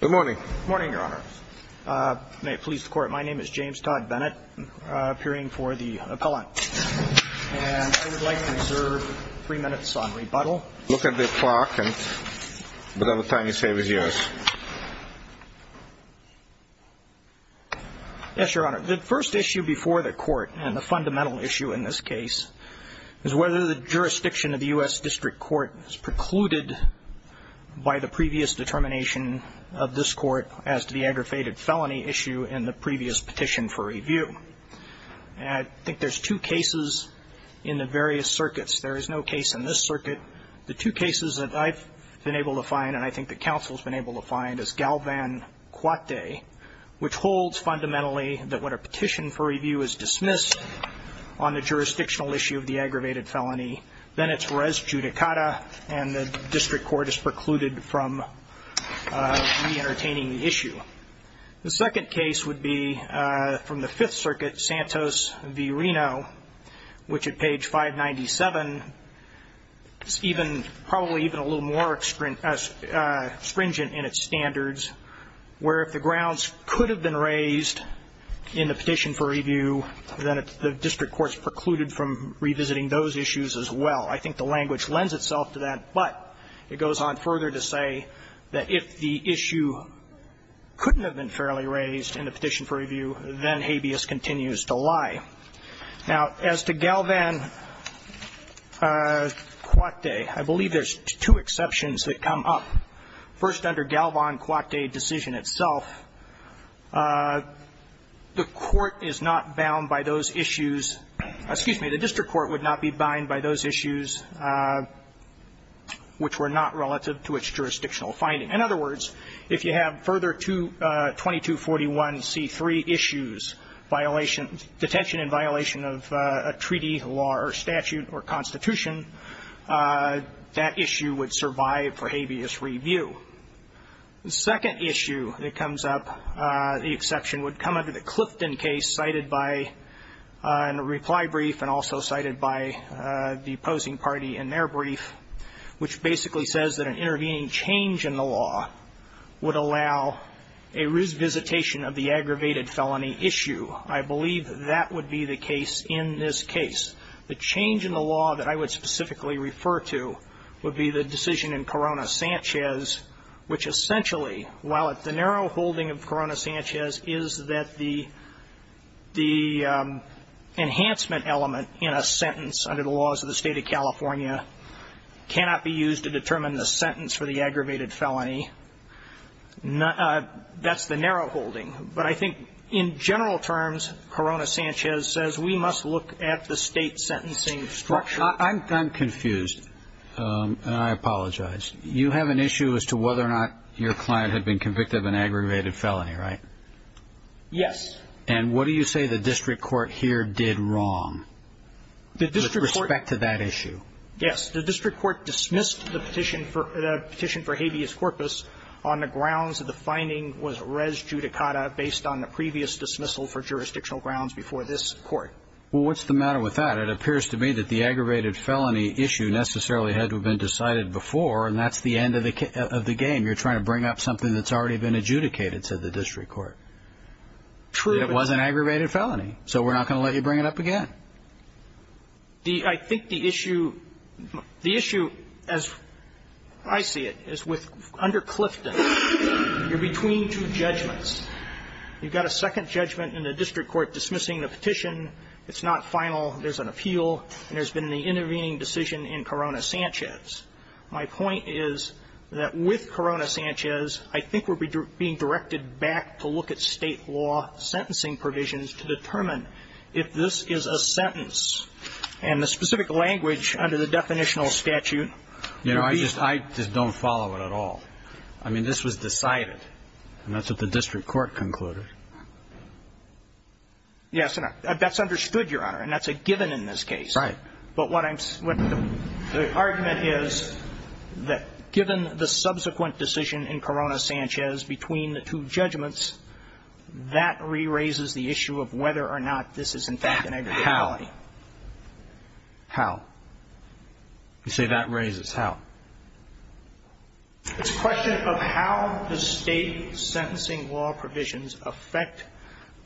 Good morning. Good morning, Your Honor. May it please the Court, my name is James Todd Bennett, appearing for the appellant. And I would like to reserve three minutes on rebuttal. Look at the clock and whatever time you say is yours. Yes, Your Honor. The first issue before the Court, and the fundamental issue in this case, is whether the jurisdiction of the U.S. District Court is precluded by the previous determination of this Court as to the aggravated felony issue in the previous petition for review. And I think there's two cases in the various circuits. There is no case in this circuit. The two cases that I've been able to find, and I think the Council's been able to find, is Galvan-Coate, which holds fundamentally that when a petition for review is dismissed on the jurisdictional issue of the aggravated felony, then it's res judicata and the District Court is precluded from re-entertaining the issue. The second case would be from the Fifth Circuit, Santos v. Reno, which at page 597, it's even, probably even a little more stringent in its standards, where if the grounds could have been raised in the petition for review, then the District Court's precluded from revisiting those issues as well. I think the language lends itself to that. But it goes on further to say that if the issue couldn't have been fairly raised in the petition for review, then habeas continues to lie. Now, as to Galvan-Coate, I believe there's two exceptions that come up. First, under Galvan-Coate decision itself, the Court is not bound by those issues. Excuse me. The District Court would not be bound by those issues which were not relative to its jurisdictional finding. In other words, if you have further 2241C3 issues, detention in violation of a treaty law or statute or constitution, that issue would survive for habeas review. The second issue that comes up, the exception would come under the Clifton case cited by a reply brief and also cited by the opposing party in their brief, which basically says that an intervening change in the law would allow a revisitation of the aggravated felony issue. I believe that would be the case in this case. The change in the law that I would specifically refer to would be the decision in Corona-Sanchez, which essentially, while the narrow holding of Corona-Sanchez is that the enhancement element in a sentence under the laws of the State of California cannot be used to determine the sentence for the aggravated felony, that's the narrow holding. But I think in general terms, Corona-Sanchez says we must look at the state sentencing structure. I'm confused, and I apologize. You have an issue as to whether or not your client had been convicted of an aggravated felony, right? Yes. And what do you say the district court here did wrong with respect to that issue? Yes. The district court dismissed the petition for habeas corpus on the grounds that the finding was res judicata based on the previous dismissal for jurisdictional grounds before this Court. Well, what's the matter with that? It appears to me that the aggravated felony issue necessarily had to have been decided before, and that's the end of the game. You're trying to bring up something that's already been adjudicated, said the district court. It was an aggravated felony, so we're not going to let you bring it up again. I think the issue, the issue, as I see it, is with under Clifton, you're between two judgments. You've got a second judgment in the district court dismissing the petition. It's not final. There's an appeal, and there's been the intervening decision in Corona-Sanchez. My point is that with Corona-Sanchez, I think we're being directed back to look at state law sentencing provisions to determine if this is a sentence. And the specific language under the definitional statute would be. You know, I just don't follow it at all. I mean, this was decided, and that's what the district court concluded. Yes, and that's understood, Your Honor, and that's a given in this case. Right. But the argument is that given the subsequent decision in Corona-Sanchez between the two judgments, that re-raises the issue of whether or not this is, in fact, an aggravated felony. How? How? You say that raises. How? It's a question of how the state sentencing law provisions affect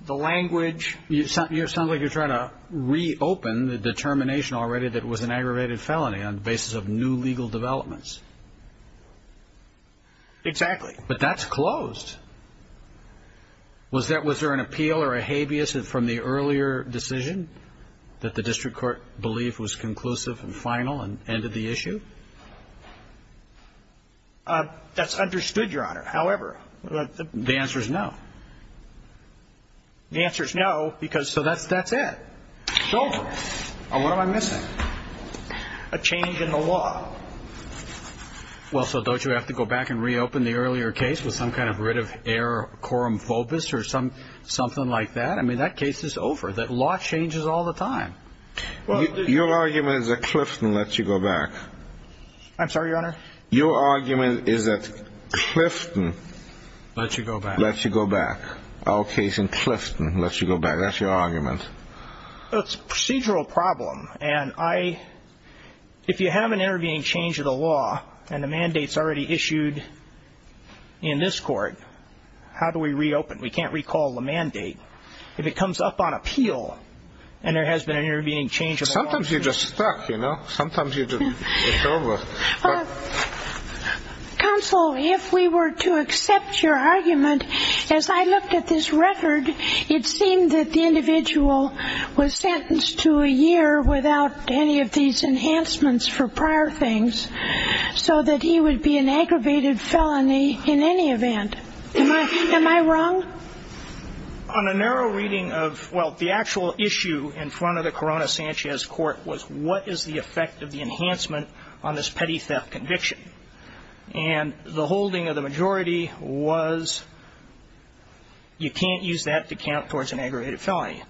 the language. It sounds like you're trying to reopen the determination already that it was an aggravated felony on the basis of new legal developments. Exactly. But that's closed. Was there an appeal or a habeas from the earlier decision that the district court believed was conclusive and final and ended the issue? That's understood, Your Honor. However. The answer is no. The answer is no because so that's it. It's over. And what am I missing? A change in the law. Well, so don't you have to go back and reopen the earlier case with some kind of writ of air corum fobis or something like that? I mean, that case is over. That law changes all the time. Your argument is that Clifton lets you go back. I'm sorry, Your Honor? Your argument is that Clifton lets you go back. Our case in Clifton lets you go back. That's your argument. It's a procedural problem. And if you have an intervening change of the law and the mandate's already issued in this court, how do we reopen? We can't recall the mandate. If it comes up on appeal and there has been an intervening change of the law. Sometimes you're just stuck, you know. Sometimes it's over. Counsel, if we were to accept your argument, as I looked at this record, it seemed that the individual was sentenced to a year without any of these enhancements for prior things so that he would be an aggravated felony in any event. Am I wrong? On a narrow reading of, well, the actual issue in front of the Corona-Sanchez court was what is the effect of the enhancement on this petty theft conviction? And the holding of the majority was you can't use that to count towards an aggravated felony.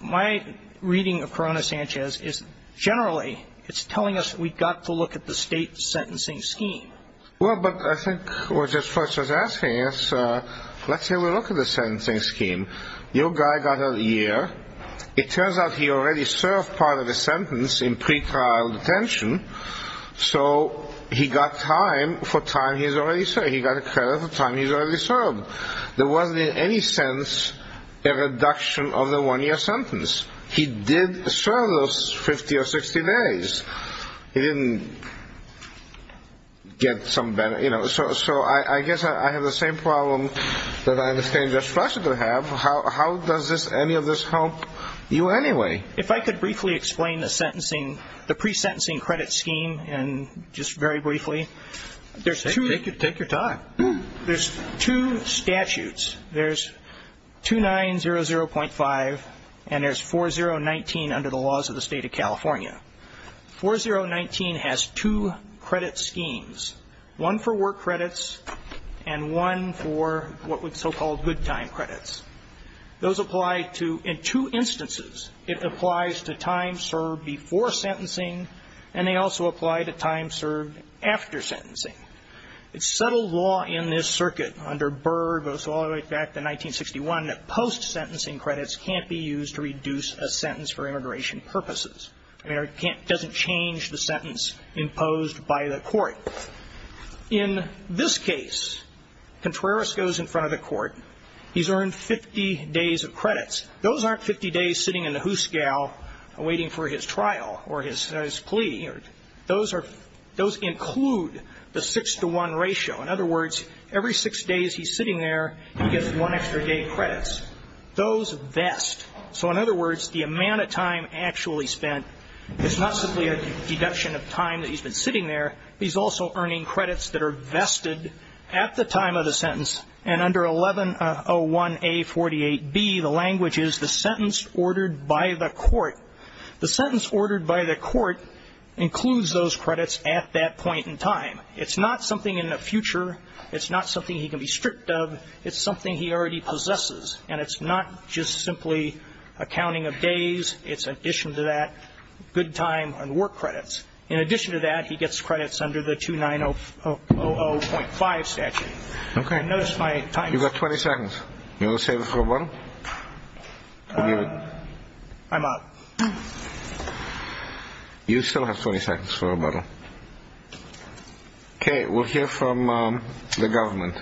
My reading of Corona-Sanchez is generally it's telling us we've got to look at the state sentencing scheme. Well, but I think what Judge Fletcher's asking is let's have a look at the sentencing scheme. Your guy got a year. It turns out he already served part of the sentence in pretrial detention, so he got time for time he's already served. He got a credit for time he's already served. There wasn't in any sense a reduction of the one-year sentence. He did serve those 50 or 60 days. He didn't get some better, you know. So I guess I have the same problem that I understand Judge Fletcher to have. How does any of this help you anyway? If I could briefly explain the pre-sentencing credit scheme and just very briefly. Take your time. There's two statutes. There's 2900.5 and there's 4019 under the laws of the state of California. 4019 has two credit schemes, one for work credits and one for what we'd so-call good time credits. Those apply to two instances. It applies to time served before sentencing, and they also apply to time served after sentencing. It's settled law in this circuit under Byrd, so all the way back to 1961, post-sentencing credits can't be used to reduce a sentence for immigration purposes. It doesn't change the sentence imposed by the court. In this case, Contreras goes in front of the court. He's earned 50 days of credits. Those aren't 50 days sitting in a hoose gal waiting for his trial or his plea. Those include the six-to-one ratio. In other words, every six days he's sitting there, he gets one extra day credits. Those vest. So in other words, the amount of time actually spent is not simply a deduction of time that he's been sitting there. He's also earning credits that are vested at the time of the sentence, and under 1101A48B, the language is the sentence ordered by the court. The sentence ordered by the court includes those credits at that point in time. It's not something in the future. It's not something he can be stripped of. It's something he already possesses, and it's not just simply a counting of days. It's, in addition to that, good time and work credits. In addition to that, he gets credits under the 2900.5 statute. Okay. I noticed my time. You've got 20 seconds. You want to save it for a bottle? I'm up. You still have 20 seconds for a bottle. Okay. We'll hear from the government.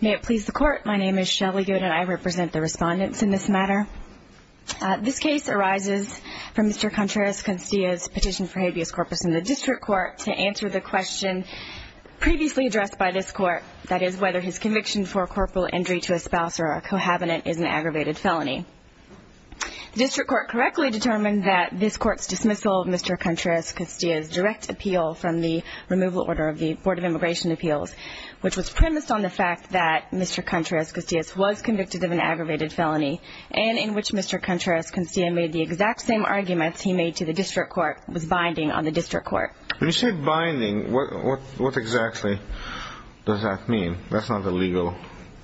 May it please the court. My name is Shelley Good, and I represent the respondents in this matter. This case arises from Mr. Contreras-Castillas' petition for habeas corpus in the district court to answer the question previously addressed by this court, that is whether his conviction for corporal injury to a spouse or a cohabitant is an aggravated felony. The district court correctly determined that this court's dismissal of Mr. Contreras-Castillas' direct appeal from the removal order of the Board of Immigration Appeals, which was premised on the fact that Mr. Contreras-Castillas was convicted of an aggravated felony, and in which Mr. Contreras-Castillas made the exact same arguments he made to the district court with binding on the district court. When you say binding, what exactly does that mean? That's not a legal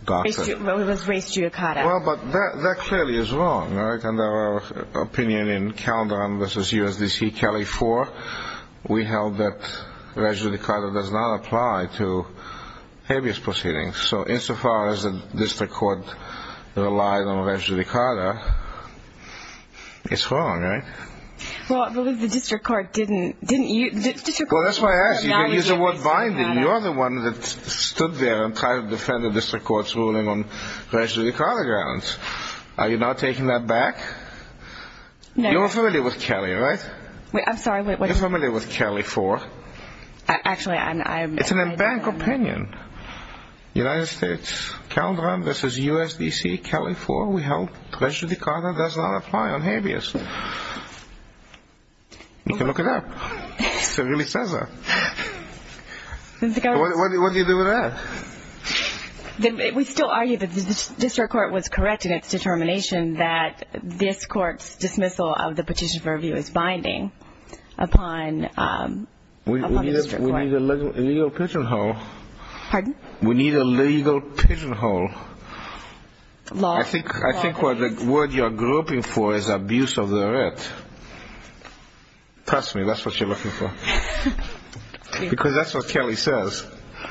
doctrine. Well, it was res judicata. Well, but that clearly is wrong, right? Under our opinion in Caledon v. USDC, Cali 4, we held that res judicata does not apply to habeas proceedings. So insofar as the district court relied on res judicata, it's wrong, right? Well, but the district court didn't. Well, that's why I asked you. You can use the word binding. You're the one that stood there and tried to defend the district court's ruling on res judicata grounds. Are you now taking that back? No. You're familiar with Cali, right? Wait, I'm sorry. You're familiar with Cali 4? Actually, I'm not. It's an embarrassing opinion. United States, Caledon v. USDC, Cali 4, we held res judicata does not apply on habeas. You can look it up. It really says that. What do you do with that? We still argue that the district court was correct in its determination that this court's dismissal of the petition for review is binding upon the district court. We need a legal pigeonhole. Pardon? We need a legal pigeonhole. I think the word you're grouping for is abuse of the writ. Trust me, that's what you're looking for. Because that's what Cali says.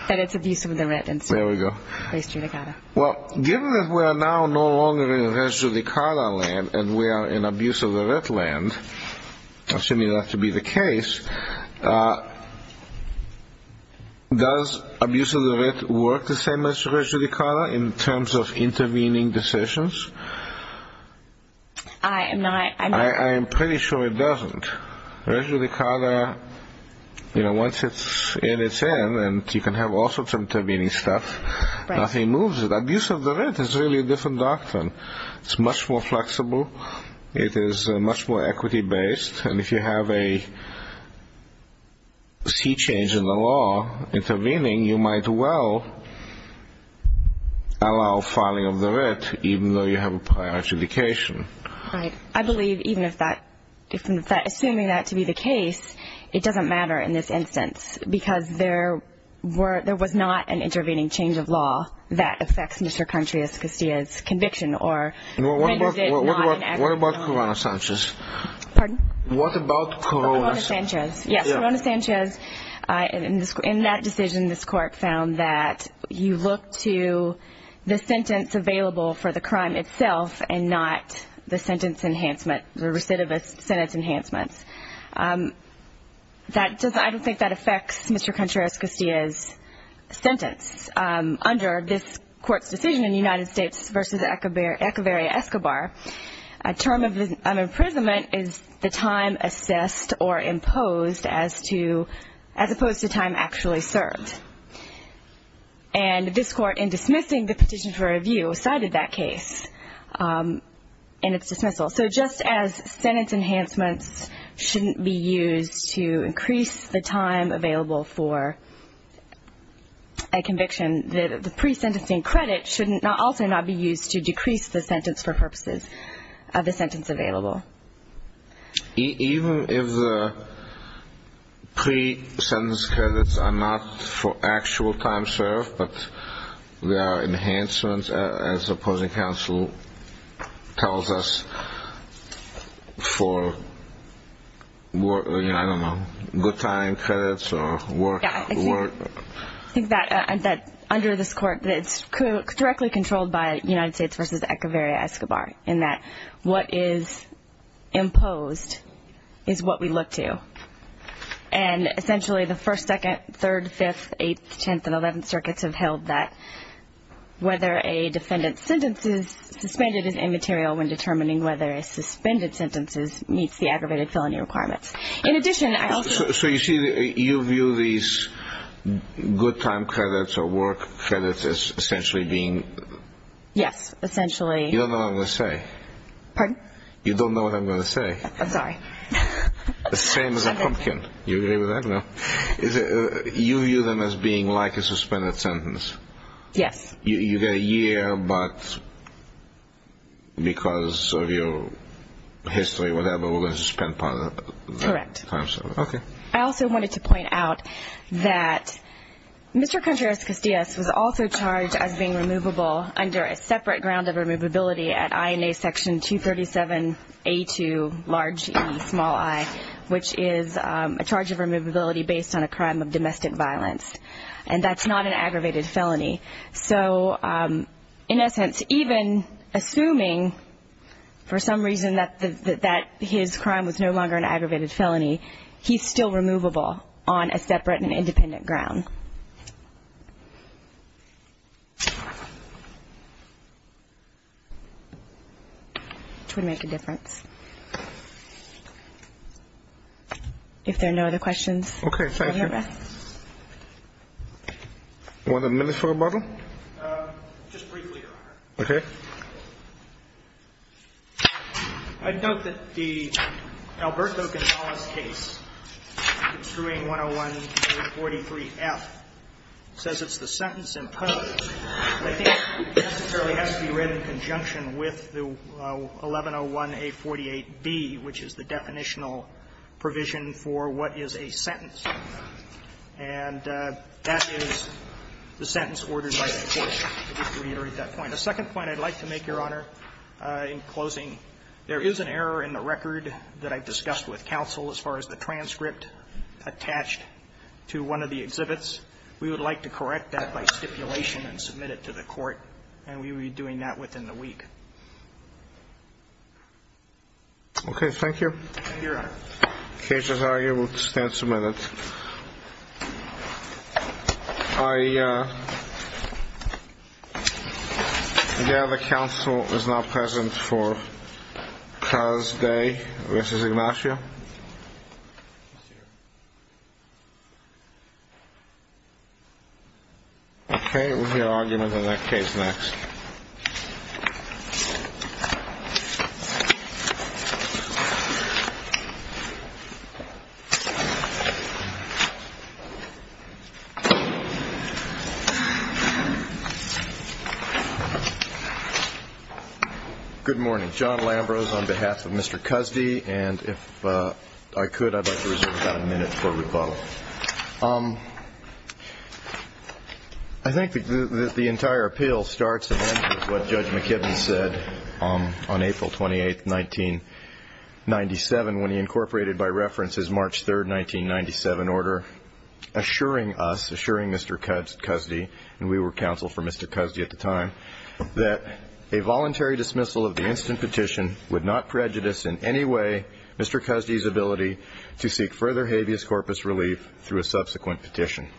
That it's abuse of the writ. There we go. Res judicata. Well, given that we are now no longer in res judicata land and we are in abuse of the writ land, assuming that to be the case, does abuse of the writ work the same as res judicata in terms of intervening decisions? I am pretty sure it doesn't. Res judicata, you know, once it's in its end and you can have all sorts of intervening stuff, nothing moves it. Abuse of the writ is really a different doctrine. It's much more flexible. It is much more equity-based. And if you have a sea change in the law intervening, you might well allow filing of the writ even though you have a prior adjudication. Right. I believe even if that, assuming that to be the case, it doesn't matter in this instance because there was not an intervening change of law that affects Mr. Country, Escostia's conviction or renders it non-enactable. What about Corona Sanchez? Pardon? What about Corona Sanchez? Corona Sanchez. Yes, Corona Sanchez. In that decision, this Court found that you look to the sentence available for the crime itself and not the sentence enhancement, the recidivist sentence enhancement. I don't think that affects Mr. Country, Escostia's sentence. Under this Court's decision in the United States versus Echeveria-Escobar, a term of imprisonment is the time assessed or imposed as opposed to time actually served. And this Court, in dismissing the petition for review, cited that case in its dismissal. So just as sentence enhancements shouldn't be used to increase the time available for a conviction, the pre-sentencing credit should also not be used to decrease the sentence for purposes of the sentence available. Even if the pre-sentence credits are not for actual time served but they are enhancements, as the opposing counsel tells us, for, I don't know, good time credits or work. I think that under this Court, it's directly controlled by United States versus Echeveria-Escobar in that what is imposed is what we look to. And essentially the 1st, 2nd, 3rd, 5th, 8th, 10th, and 11th circuits have held that whether a defendant's sentence is suspended is immaterial when determining whether a suspended sentence meets the aggravated felony requirements. In addition, I also... So you see, you view these good time credits or work credits as essentially being... Yes, essentially... You don't know what I'm going to say. Pardon? You don't know what I'm going to say. I'm sorry. The same as a pumpkin. You agree with that? No. You view them as being like a suspended sentence. Yes. You get a year, but because of your history, whatever, we're going to suspend part of the time served. Correct. Okay. I also wanted to point out that Mr. Contreras-Castillas was also charged as being removable under a separate ground of removability at INA Section 237A2, large E, small I, which is a charge of removability based on a crime of domestic violence, and that's not an aggravated felony. So in essence, even assuming for some reason that his crime was no longer an aggravated felony, he's still removable on a separate and independent ground, which would make a difference. If there are no other questions. Okay. Thank you. Want a minute for rebuttal? Just briefly, Your Honor. Okay. I'd note that the Alberto Gonzalez case, Construing 101A43F, says it's the sentence imposed. I think it necessarily has to be read in conjunction with the 1101A48B, which is the definitional provision for what is a sentence. And that is the sentence ordered by the court. I'd like to reiterate that point. The second point I'd like to make, Your Honor, in closing, there is an error in the record that I've discussed with counsel as far as the transcript attached to one of the exhibits. We would like to correct that by stipulation and submit it to the court, and we will be doing that within the week. Okay. Thank you. Thank you, Your Honor. The case is arguable. It stands submitted. I gather counsel is not present for Carr's day versus Ignacio. Okay. We'll hear arguments on that case next. Good morning. My name is John Lambros on behalf of Mr. Cusdy, and if I could, I'd like to reserve about a minute for rebuttal. I think the entire appeal starts and ends with what Judge McKibben said on April 28, 1997, when he incorporated by reference his March 3, 1997 order, assuring us, assuring Mr. Cusdy, and we were counsel for Mr. Cusdy at the time, that a voluntary dismissal of the instant petition would not prejudice in any way Mr. Cusdy's ability to seek further habeas corpus relief through a subsequent petition.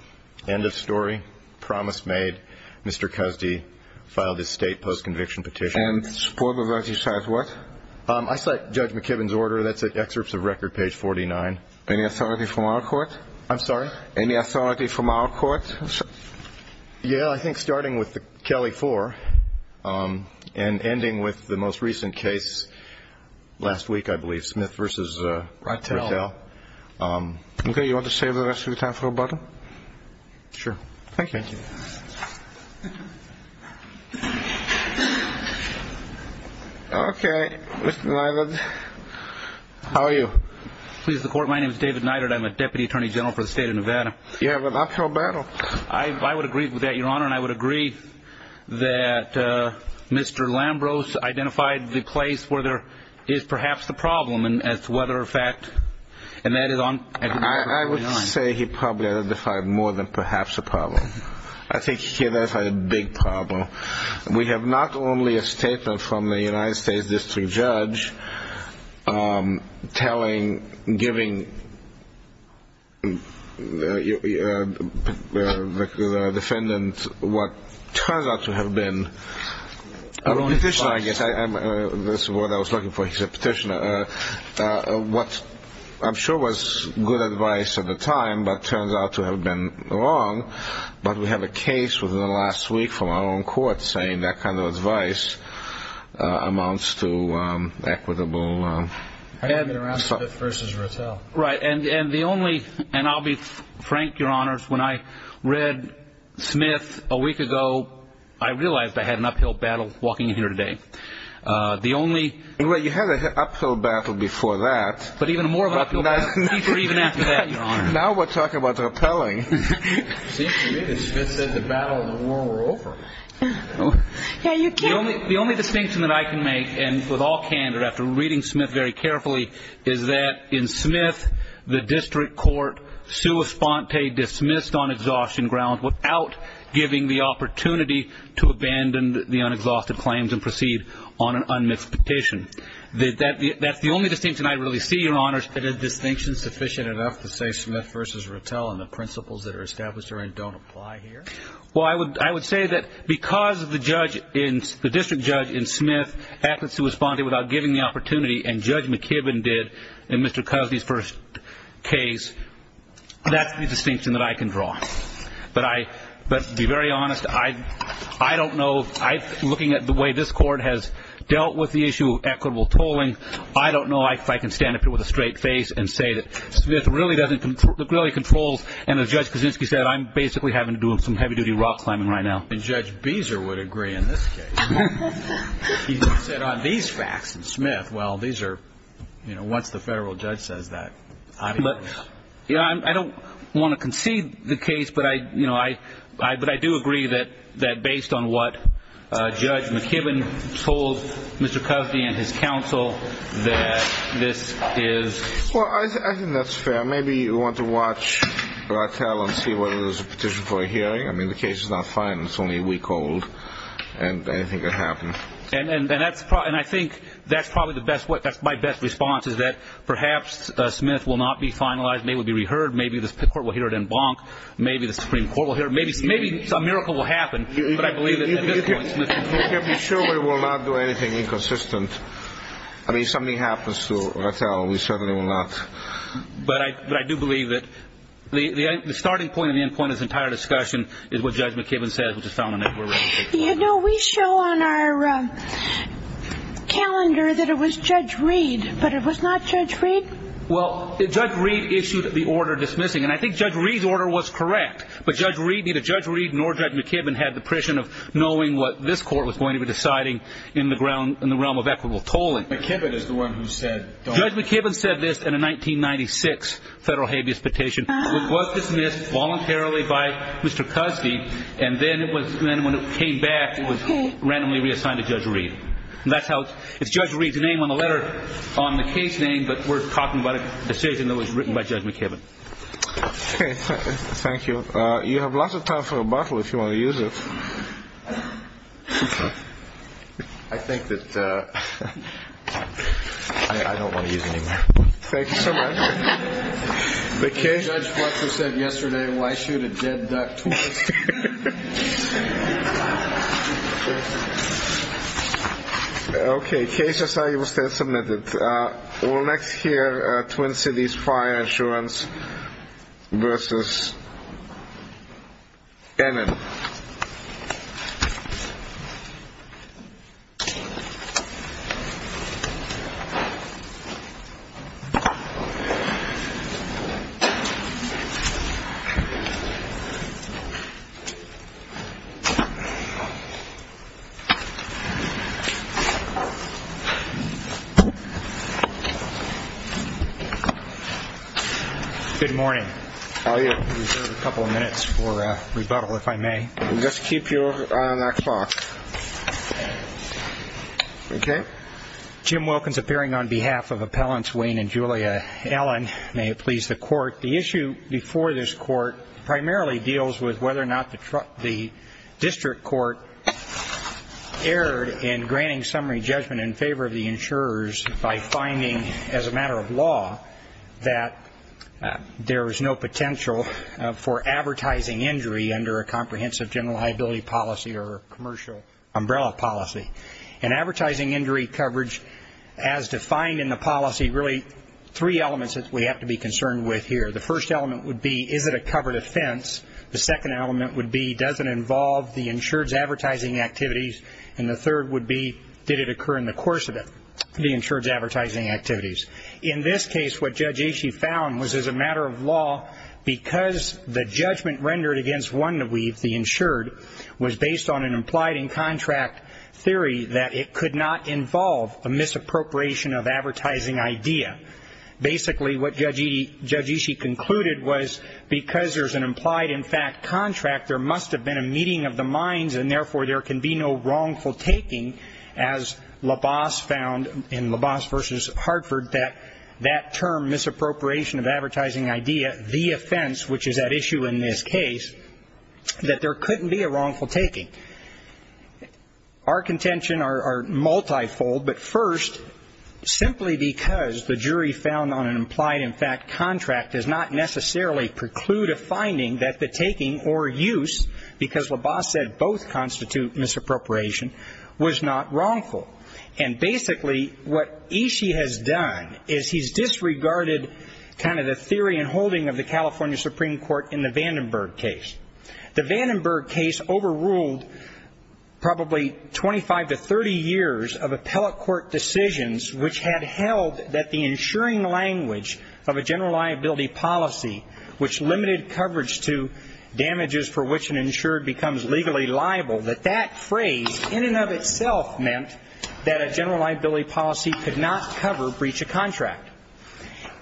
End of story. Promise made. Mr. Cusdy filed his state post-conviction petition. And support of that, you cite what? I cite Judge McKibben's order. That's at excerpts of record, page 49. Any authority from our court? I'm sorry? Any authority from our court? Yeah, I think starting with the Kelly 4 and ending with the most recent case last week, I believe, Smith v. Rattell. Okay. You want to save the rest of your time for rebuttal? Thank you. Okay. Mr. Neidert, how are you? Please, the Court, my name is David Neidert. I'm a Deputy Attorney General for the State of Nevada. You have an uphill battle. I would agree with that, Your Honor. And I would agree that Mr. Lambros identified the place where there is perhaps the problem, as to whether, in fact, and that is on page 49. I would say he probably identified more than perhaps a problem. I think he identified a big problem. We have not only a statement from the United States District Judge telling, giving the defendant what turns out to have been a petitioner, I guess. That's what I was looking for. He said petitioner. What I'm sure was good advice at the time, but turns out to have been wrong. But we have a case within the last week from our own court saying that kind of advice amounts to equitable. I have been around Smith v. Rattell. Right. And the only, and I'll be frank, Your Honors, when I read Smith a week ago, I realized I had an uphill battle walking in here today. The only. Well, you had an uphill battle before that. But even more uphill battle, even after that, Your Honor. Now we're talking about rappelling. It seems to me that Smith said the battle and the war were over. Yeah, you can't. The only distinction that I can make, and with all candor after reading Smith very carefully, is that in Smith the district court sua sponte dismissed on exhaustion grounds without giving the opportunity to abandon the unexhausted claims and proceed on an unmixed petition. That's the only distinction I really see, Your Honors. Is that a distinction sufficient enough to say Smith v. Rattell and the principles that are established therein don't apply here? Well, I would say that because the district judge in Smith happens to sua sponte without giving the opportunity, and Judge McKibben did in Mr. Cosby's first case, that's the distinction that I can draw. But to be very honest, I don't know, looking at the way this court has dealt with the issue of equitable tolling, I don't know if I can stand up here with a straight face and say that Smith really controls, and as Judge Kaczynski said, I'm basically having to do some heavy-duty rock climbing right now. And Judge Beezer would agree in this case. He said on these facts in Smith, well, these are, you know, once the federal judge says that, I don't know. I don't want to concede the case, but I do agree that based on what Judge McKibben told Mr. Cosby and his counsel that this is. Well, I think that's fair. Maybe you want to watch Rattell and see whether there's a petition for a hearing. I mean, the case is not final. It's only a week old, and anything could happen. And I think that's probably my best response is that perhaps Smith will not be finalized. Maybe it will be reheard. Maybe this court will hear it en banc. Maybe the Supreme Court will hear it. Maybe some miracle will happen, but I believe at this point Smith controls. I can't be sure we will not do anything inconsistent. I mean, if something happens to Rattell, we certainly will not. But I do believe that the starting point and the end point of this entire discussion is what Judge McKibben said, which is found on that report. You know, we show on our calendar that it was Judge Reed, but it was not Judge Reed? Well, Judge Reed issued the order dismissing. And I think Judge Reed's order was correct, but neither Judge Reed nor Judge McKibben had the precision of knowing what this court was going to be deciding in the realm of equitable tolling. Judge McKibben said this in a 1996 federal habeas petition, which was dismissed voluntarily by Mr. Cusby, and then when it came back, it was randomly reassigned to Judge Reed. And that's how it's Judge Reed's name on the letter on the case name, but we're talking about a decision that was written by Judge McKibben. Okay. Thank you. You have lots of time for a bottle if you want to use it. I think that I don't want to use it anymore. Thank you so much. Judge Fletcher said yesterday, why shoot a dead duck twice? Okay. Case as I understand submitted. We'll next hear Twin Cities Fire Insurance versus Emin. Good morning. I reserve a couple of minutes for rebuttal, if I may. We'll just keep you on that clock. Okay. Jim Wilkins appearing on behalf of appellants Wayne and Julia Allen. May it please the court. The issue before this court primarily deals with whether or not the district court erred in granting summary judgment in favor of the insurers by fire. We're finding, as a matter of law, that there is no potential for advertising injury under a comprehensive general liability policy or a commercial umbrella policy. And advertising injury coverage, as defined in the policy, really three elements that we have to be concerned with here. The first element would be, is it a covered offense? The second element would be, does it involve the insured's advertising activities? And the third would be, did it occur in the course of it, the insured's advertising activities? In this case, what Judge Ishii found was, as a matter of law, because the judgment rendered against Wanda Weave, the insured, was based on an implied in contract theory that it could not involve a misappropriation of advertising idea. Basically, what Judge Ishii concluded was, because there's an implied in fact contract, there must have been a meeting of the minds, and therefore there can be no wrongful taking, as LaBasse found in LaBasse v. Hartford, that that term, misappropriation of advertising idea, the offense, which is at issue in this case, that there couldn't be a wrongful taking. Our contention are multifold, but first, simply because the jury found on an implied in fact contract does not necessarily preclude a finding that the taking or use, because LaBasse said both constitute misappropriation, was not wrongful. And basically what Ishii has done is he's disregarded kind of the theory and holding of the California Supreme Court in the Vandenberg case. The Vandenberg case overruled probably 25 to 30 years of appellate court decisions which had held that the insuring language of a general liability policy, which limited coverage to damages for which an insured becomes legally liable, that that phrase in and of itself meant that a general liability policy could not cover breach of contract.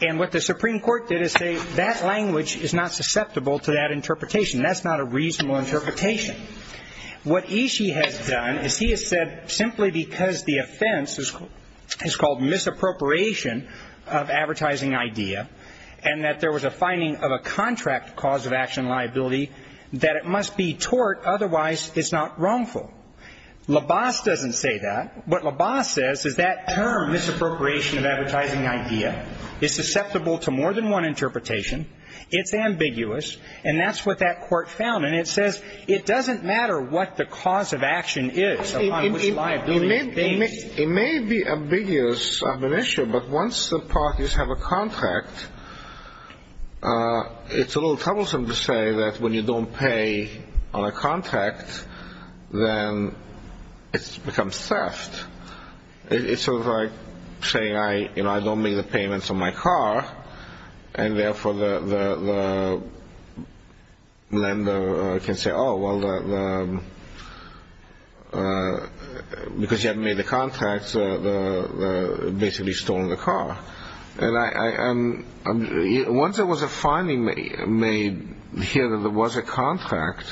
And what the Supreme Court did is say that language is not susceptible to that interpretation. That's not a reasonable interpretation. What Ishii has done is he has said simply because the offense is called misappropriation of advertising idea and that there was a finding of a contract cause of action liability, that it must be tort, otherwise it's not wrongful. LaBasse doesn't say that. What LaBasse says is that term, misappropriation of advertising idea, is susceptible to more than one interpretation. It's ambiguous. And that's what that court found. And it says it doesn't matter what the cause of action is upon which liability is based. It may be ambiguous of an issue, but once the parties have a contract, it's a little troublesome to say that when you don't pay on a contract, then it becomes theft. It's sort of like saying I don't make the payments on my car, and therefore the lender can say, oh, well, because you haven't made the contract, you've basically stolen the car. And once there was a finding made here that there was a contract.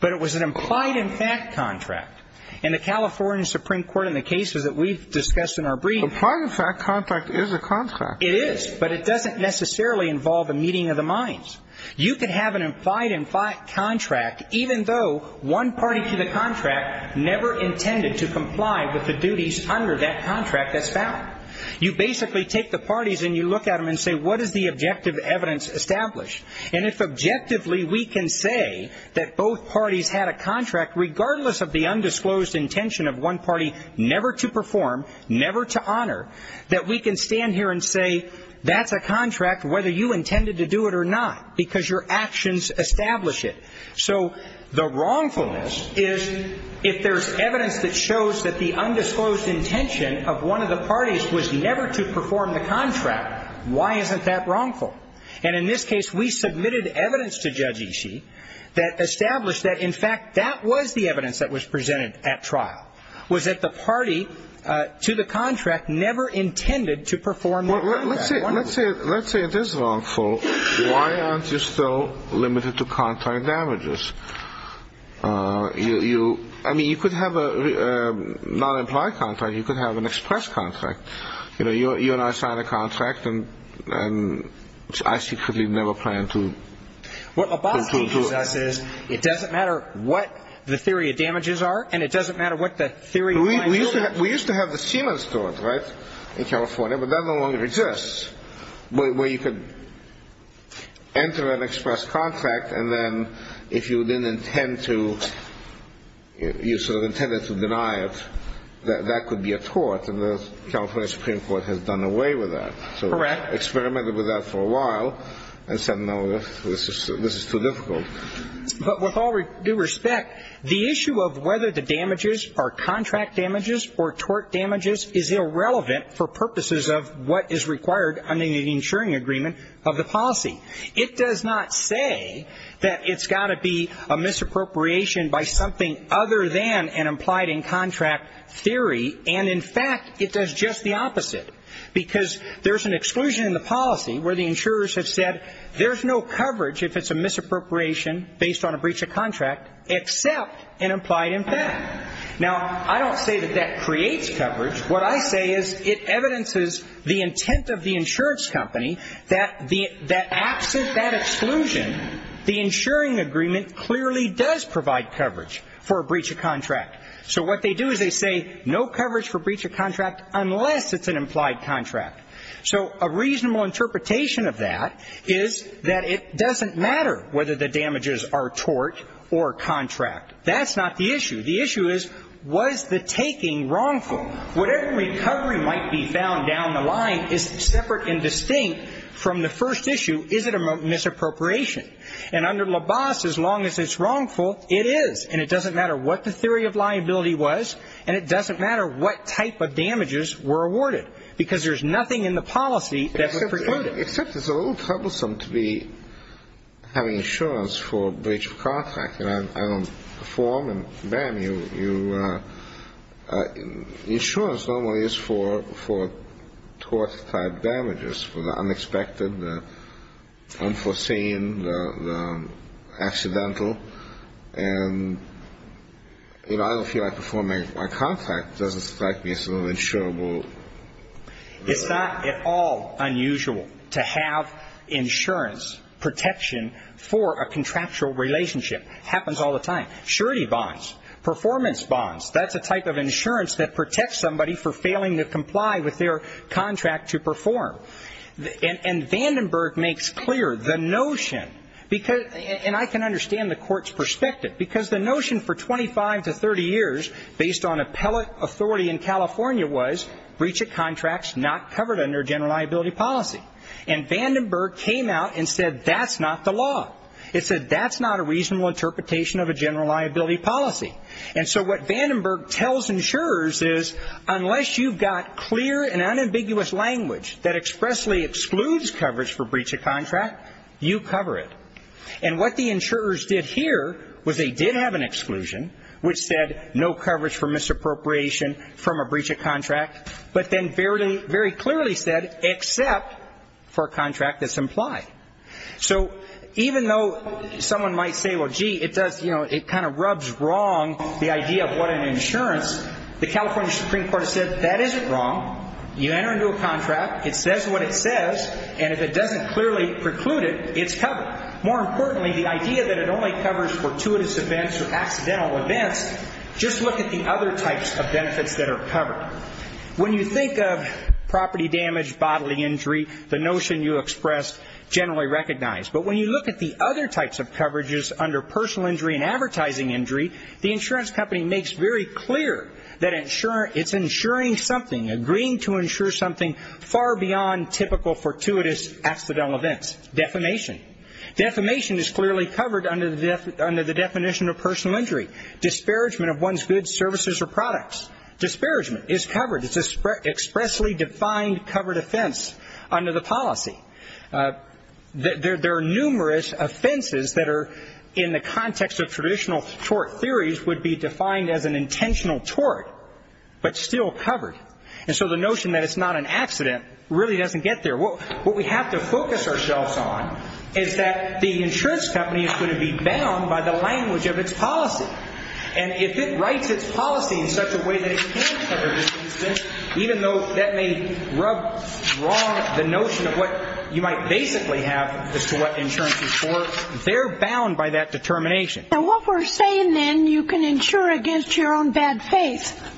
But it was an implied in fact contract. And the California Supreme Court in the cases that we've discussed in our briefs. Implied in fact contract is a contract. It is, but it doesn't necessarily involve a meeting of the minds. You can have an implied in fact contract even though one party to the contract never intended to comply with the duties under that contract that's found. You basically take the parties and you look at them and say, what is the objective evidence established? And if objectively we can say that both parties had a contract, regardless of the undisclosed intention of one party never to perform, never to honor, that we can stand here and say that's a contract whether you intended to do it or not, because your actions establish it. So the wrongfulness is if there's evidence that shows that the undisclosed intention of one of the parties was never to perform the contract, why isn't that wrongful? And in this case we submitted evidence to Judge Ishii that established that, in fact, that was the evidence that was presented at trial, was that the party to the contract never intended to perform the contract. Let's say it is wrongful. Why aren't you still limited to contract damages? I mean, you could have a non-implied contract. You could have an express contract. You know, you and I signed a contract and I secretly never planned to. What Abbas teaches us is it doesn't matter what the theory of damages are and it doesn't matter what the theory of liability is. We used to have the Siemens tort, right, in California, but that no longer exists where you could enter an express contract and then if you didn't intend to, you sort of intended to deny it, that could be a tort, and the California Supreme Court has done away with that. Correct. So we experimented with that for a while and said, no, this is too difficult. But with all due respect, the issue of whether the damages are contract damages or tort damages is irrelevant for purposes of what is required under the insuring agreement of the policy. It does not say that it's got to be a misappropriation by something other than an implied in contract theory, and in fact it does just the opposite because there's an exclusion in the policy where the insurers have said there's no coverage if it's a misappropriation based on a breach of contract except an implied in fact. Now, I don't say that that creates coverage. What I say is it evidences the intent of the insurance company that absent that exclusion, the insuring agreement clearly does provide coverage for a breach of contract. So what they do is they say no coverage for breach of contract unless it's an implied contract. So a reasonable interpretation of that is that it doesn't matter whether the damages are tort or contract. That's not the issue. The issue is was the taking wrongful? Whatever recovery might be found down the line is separate and distinct from the first issue, is it a misappropriation? And under LABAS, as long as it's wrongful, it is, and it doesn't matter what the theory of liability was and it doesn't matter what type of damages were awarded because there's nothing in the policy that would preclude it. Except it's a little troublesome to be having insurance for breach of contract, and I don't perform and bam, you insurance normally is for tort-type damages, for the unexpected, the unforeseen, the accidental, and I don't feel like performing my contract doesn't strike me as a little insurable. It's not at all unusual to have insurance protection for a contractual relationship. It happens all the time. Surety bonds, performance bonds, that's a type of insurance that protects somebody for failing to comply with their contract to perform. And Vandenberg makes clear the notion, and I can understand the court's perspective, because the notion for 25 to 30 years based on appellate authority in California was breach of contracts not covered under general liability policy. And Vandenberg came out and said that's not the law. It said that's not a reasonable interpretation of a general liability policy. And so what Vandenberg tells insurers is unless you've got clear and unambiguous language that expressly excludes coverage for breach of contract, you cover it. And what the insurers did here was they did have an exclusion, which said no coverage for misappropriation from a breach of contract, but then very clearly said except for a contract that's implied. So even though someone might say, well, gee, it kind of rubs wrong the idea of what an insurance, the California Supreme Court has said that isn't wrong. You enter into a contract, it says what it says, and if it doesn't clearly preclude it, it's covered. More importantly, the idea that it only covers fortuitous events or accidental events, just look at the other types of benefits that are covered. When you think of property damage, bodily injury, the notion you expressed generally recognized. But when you look at the other types of coverages under personal injury and advertising injury, the insurance company makes very clear that it's insuring something, agreeing to insure something far beyond typical fortuitous accidental events. Defamation. Defamation is clearly covered under the definition of personal injury. Disparagement of one's goods, services, or products. Disparagement is covered. It's an expressly defined covered offense under the policy. There are numerous offenses that are in the context of traditional tort theories would be defined as an intentional tort, but still covered. And so the notion that it's not an accident really doesn't get there. What we have to focus ourselves on is that the insurance company is going to be bound by the language of its policy. And if it writes its policy in such a way that it can cover this instance, even though that may rub wrong the notion of what you might basically have as to what insurance is for, they're bound by that determination. Now what we're saying then, you can insure against your own bad faith.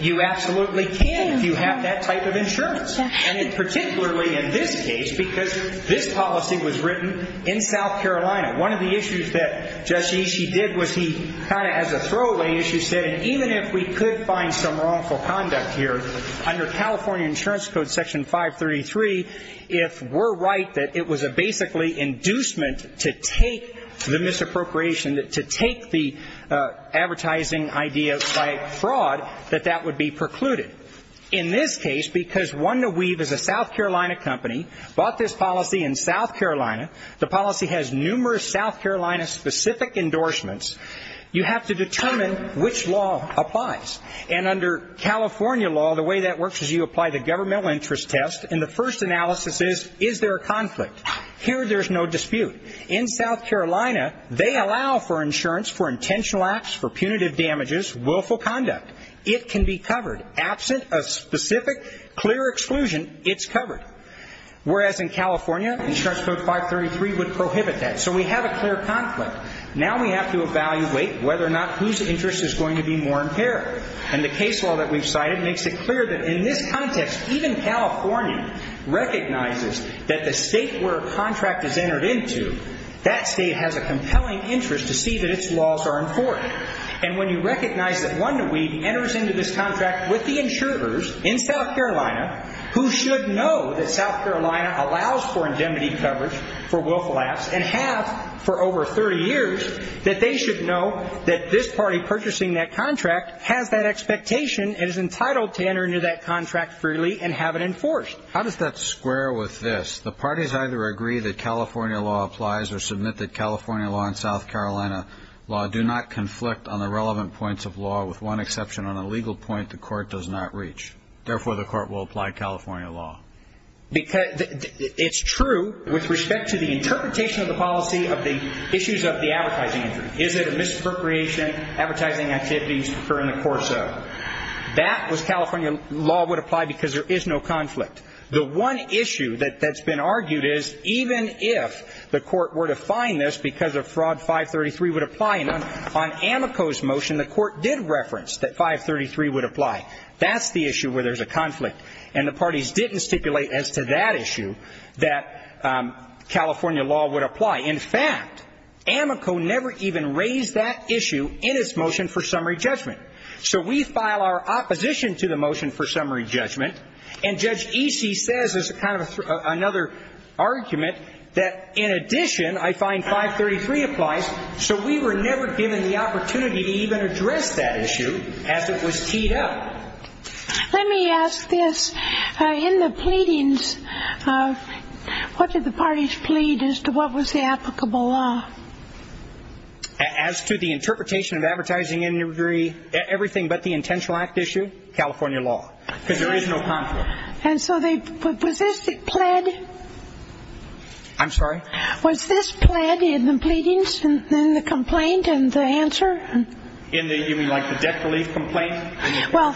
You absolutely can if you have that type of insurance, and particularly in this case because this policy was written in South Carolina. One of the issues that Justice Ishii did was he kind of as a throwaway issue said, even if we could find some wrongful conduct here under California Insurance Code Section 533, if we're right that it was a basically inducement to take the misappropriation, to take the advertising idea by fraud, that that would be precluded. In this case, because One to Weave is a South Carolina company, bought this policy in South Carolina, the policy has numerous South Carolina specific endorsements. You have to determine which law applies. And under California law, the way that works is you apply the governmental interest test, and the first analysis is, is there a conflict? Here there's no dispute. In South Carolina, they allow for insurance for intentional acts, for punitive damages, willful conduct. It can be covered. Absent a specific clear exclusion, it's covered. Whereas in California, Insurance Code 533 would prohibit that. So we have a clear conflict. Now we have to evaluate whether or not whose interest is going to be more imperative. And the case law that we've cited makes it clear that in this context, even California recognizes that the state where a contract is entered into, that state has a compelling interest to see that its laws are important. And when you recognize that One to Weave enters into this contract with the insurers in South Carolina, who should know that South Carolina allows for indemnity coverage for willful acts, and have for over 30 years, that they should know that this party purchasing that contract has that expectation and is entitled to enter into that contract freely and have it enforced. How does that square with this? The parties either agree that California law applies or submit that California law and South Carolina law do not conflict on the relevant points of law, with one exception on a legal point the court does not reach. Therefore, the court will apply California law. It's true with respect to the interpretation of the policy of the issues of the advertising interest. Is it a misappropriation? Advertising activities occur in the course of. That was California law would apply because there is no conflict. The one issue that's been argued is, even if the court were to find this because of fraud, 533 would apply. And on Amico's motion, the court did reference that 533 would apply. That's the issue where there's a conflict. And the parties didn't stipulate as to that issue that California law would apply. In fact, Amico never even raised that issue in its motion for summary judgment. So we file our opposition to the motion for summary judgment, and Judge Easey says, as kind of another argument, that in addition, I find 533 applies. So we were never given the opportunity to even address that issue as it was teed up. Let me ask this. In the pleadings, what did the parties plead as to what was the applicable law? As to the interpretation of advertising and everything but the intentional act issue? California law. Because there is no conflict. And so was this pled? I'm sorry? Was this pled in the pleadings and the complaint and the answer? You mean like the debt relief complaint? Well,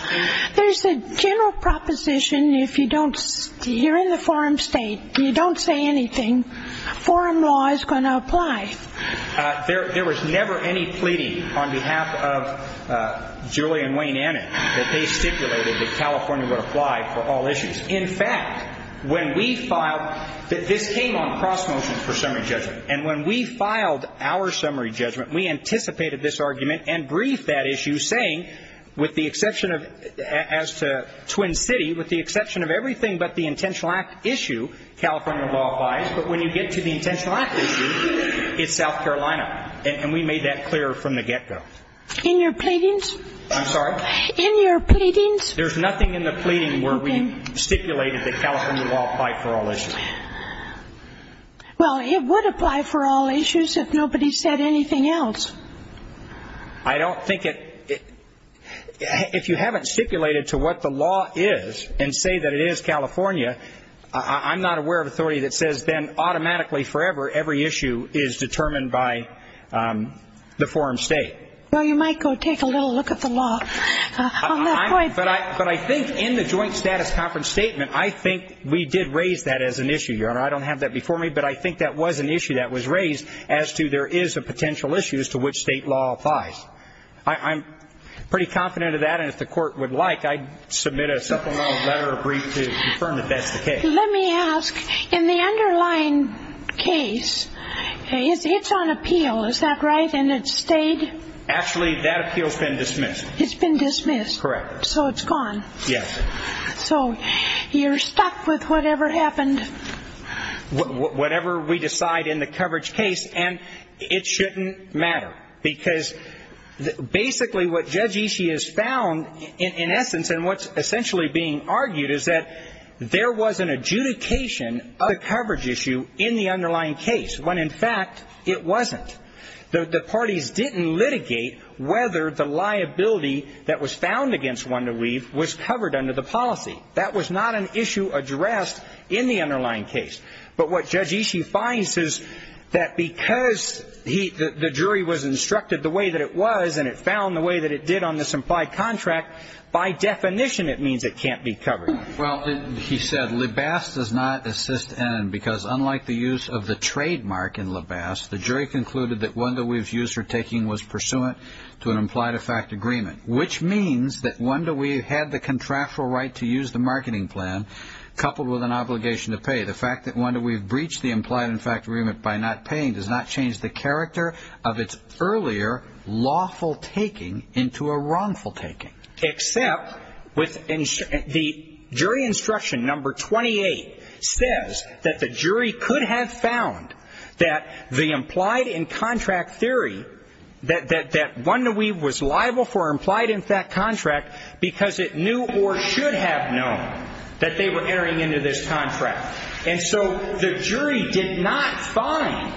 there's a general proposition. If you're in the foreign state and you don't say anything, foreign law is going to apply. There was never any pleading on behalf of Julie and Wayne Annett that they stipulated that California would apply for all issues. In fact, when we filed, this came on cross-motion for summary judgment. And when we filed our summary judgment, we anticipated this argument and briefed that issue, saying, with the exception of, as to Twin City, with the exception of everything but the intentional act issue, California law applies. But when you get to the intentional act issue, it's South Carolina. And we made that clear from the get-go. In your pleadings? I'm sorry? In your pleadings? There's nothing in the pleading where we stipulated that California law applied for all issues. Well, it would apply for all issues if nobody said anything else. I don't think it – if you haven't stipulated to what the law is and say that it is California, I'm not aware of authority that says then automatically forever every issue is determined by the foreign state. Well, you might go take a little look at the law on that point. But I think in the joint status conference statement, I think we did raise that as an issue. Your Honor, I don't have that before me, but I think that was an issue that was raised as to there is a potential issue as to which state law applies. I'm pretty confident of that. And if the court would like, I'd submit a supplemental letter of brief to confirm if that's the case. Let me ask. In the underlying case, it's on appeal. Is that right? And it stayed? Actually, that appeal has been dismissed. It's been dismissed? Correct. So it's gone? Yes. So you're stuck with whatever happened? Whatever we decide in the coverage case. And it shouldn't matter because basically what Judge Ishii has found in essence and what's essentially being argued is that there was an adjudication of the coverage issue in the underlying case when, in fact, it wasn't. The parties didn't litigate whether the liability that was found against Wanda Weave was covered under the policy. That was not an issue addressed in the underlying case. But what Judge Ishii finds is that because the jury was instructed the way that it was and it found the way that it did on the supply contract, by definition it means it can't be covered. Well, he said, because unlike the use of the trademark in LaBasse, the jury concluded that Wanda Weave's use or taking was pursuant to an implied-in-fact agreement, which means that Wanda Weave had the contractual right to use the marketing plan coupled with an obligation to pay. The fact that Wanda Weave breached the implied-in-fact agreement by not paying does not change the character of its earlier lawful taking into a wrongful taking. Except the jury instruction number 28 says that the jury could have found that the implied-in-contract theory, that Wanda Weave was liable for implied-in-fact contract because it knew or should have known that they were entering into this contract. And so the jury did not find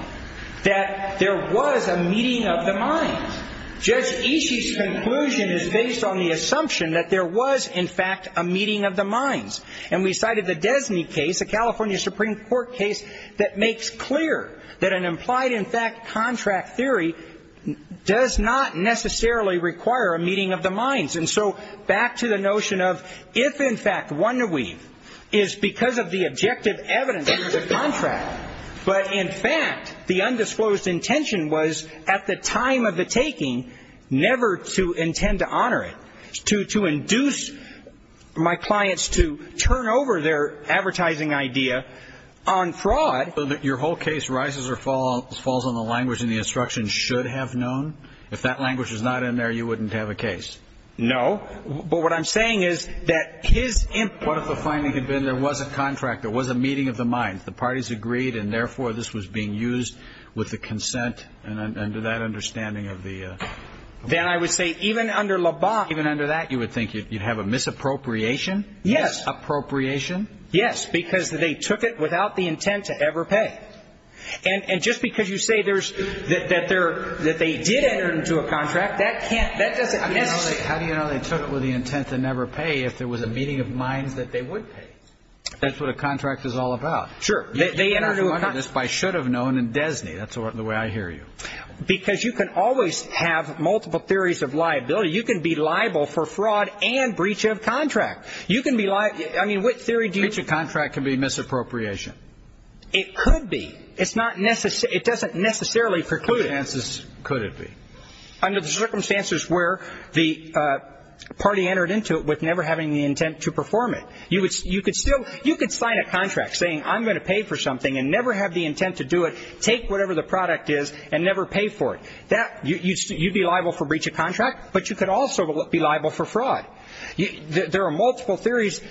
that there was a meeting of the minds. Judge Ishii's conclusion is based on the assumption that there was, in fact, a meeting of the minds. And we cited the Desney case, a California Supreme Court case, that makes clear that an implied-in-fact contract theory does not necessarily require a meeting of the minds. And so back to the notion of if, in fact, Wanda Weave is because of the objective evidence of the contract, but, in fact, the undisclosed intention was, at the time of the taking, never to intend to honor it, to induce my clients to turn over their advertising idea on fraud. So your whole case rises or falls on the language in the instruction should have known? If that language was not in there, you wouldn't have a case? No, but what I'm saying is that his input... What if the finding had been there was a contract, there was a meeting of the minds, the parties agreed, and, therefore, this was being used with the consent and under that understanding of the... Then I would say even under Le Bon... Even under that, you would think you'd have a misappropriation? Yes. Appropriation? Yes, because they took it without the intent to ever pay. And just because you say there's... that they did enter into a contract, that doesn't necessarily... How do you know they took it with the intent to never pay if there was a meeting of minds that they would pay? That's what a contract is all about. Sure. They entered into a contract... I should have known in DESNY. That's the way I hear you. Because you can always have multiple theories of liability. You can be liable for fraud and breach of contract. You can be liable... I mean, what theory do you... Breach of contract can be misappropriation. It could be. It's not necessarily... it doesn't necessarily preclude it. Under what circumstances could it be? Under the circumstances where the party entered into it with never having the intent to perform it. You could sign a contract saying, I'm going to pay for something and never have the intent to do it, take whatever the product is, and never pay for it. You'd be liable for breach of contract, but you could also be liable for fraud. There are multiple theories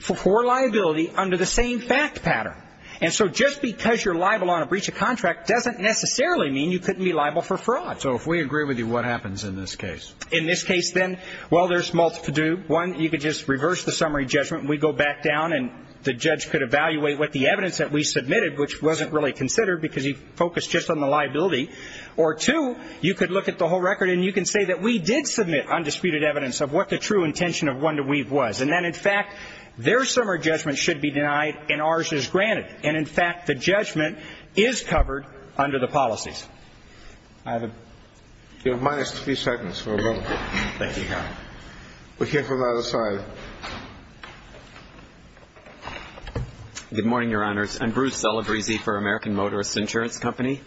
for liability under the same fact pattern. And so just because you're liable on a breach of contract doesn't necessarily mean you couldn't be liable for fraud. So if we agree with you, what happens in this case? In this case, then, well, there's multiple... One, you could just reverse the summary judgment. We go back down, and the judge could evaluate what the evidence that we submitted, which wasn't really considered because he focused just on the liability. Or two, you could look at the whole record, and you can say that we did submit undisputed evidence of what the true intention of One to Weave was. And then, in fact, their summary judgment should be denied and ours is granted. And, in fact, the judgment is covered under the policies. I have a... You have minus three seconds for a vote. Thank you, Your Honor. We'll hear from the other side. Good morning, Your Honors. I'm Bruce Celebrezze for American Motorist Insurance Company.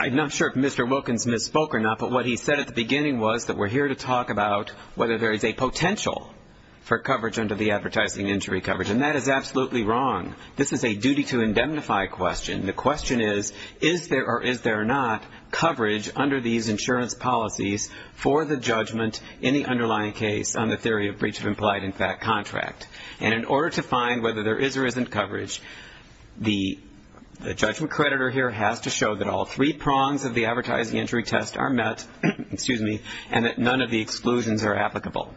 I'm not sure if Mr. Wilkins misspoke or not, but what he said at the beginning was that we're here to talk about whether there is a potential for coverage under the advertising injury coverage, and that is absolutely wrong. This is a duty-to-indemnify question. The question is, is there or is there not coverage under these insurance policies for the judgment in the underlying case on the theory of breach of implied in fact contract? And in order to find whether there is or isn't coverage, the judgment creditor here has to show that all three prongs of the advertising injury test are met, and that none of the exclusions are applicable.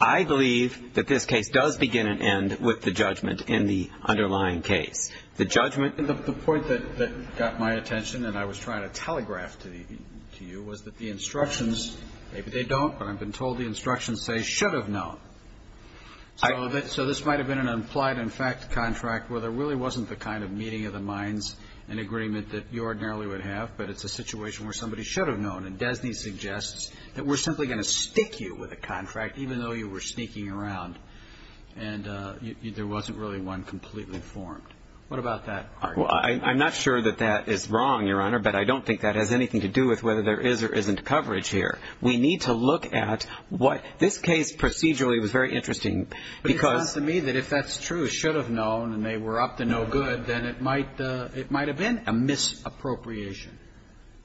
I believe that this case does begin and end with the judgment in the underlying case. The judgment. The point that got my attention, and I was trying to telegraph to you, was that the instructions, maybe they don't, but I've been told the instructions say should have known. So this might have been an implied in fact contract where there really wasn't the kind of meeting of the minds and agreement that you ordinarily would have, but it's a situation where somebody should have known. And DESNY suggests that we're simply going to stick you with a contract, even though you were sneaking around and there wasn't really one completely formed. What about that? Well, I'm not sure that that is wrong, Your Honor, but I don't think that has anything to do with whether there is or isn't coverage here. We need to look at what this case procedurally was very interesting because. But it sounds to me that if that's true, it should have known, and they were up to no good, then it might have been a misappropriation.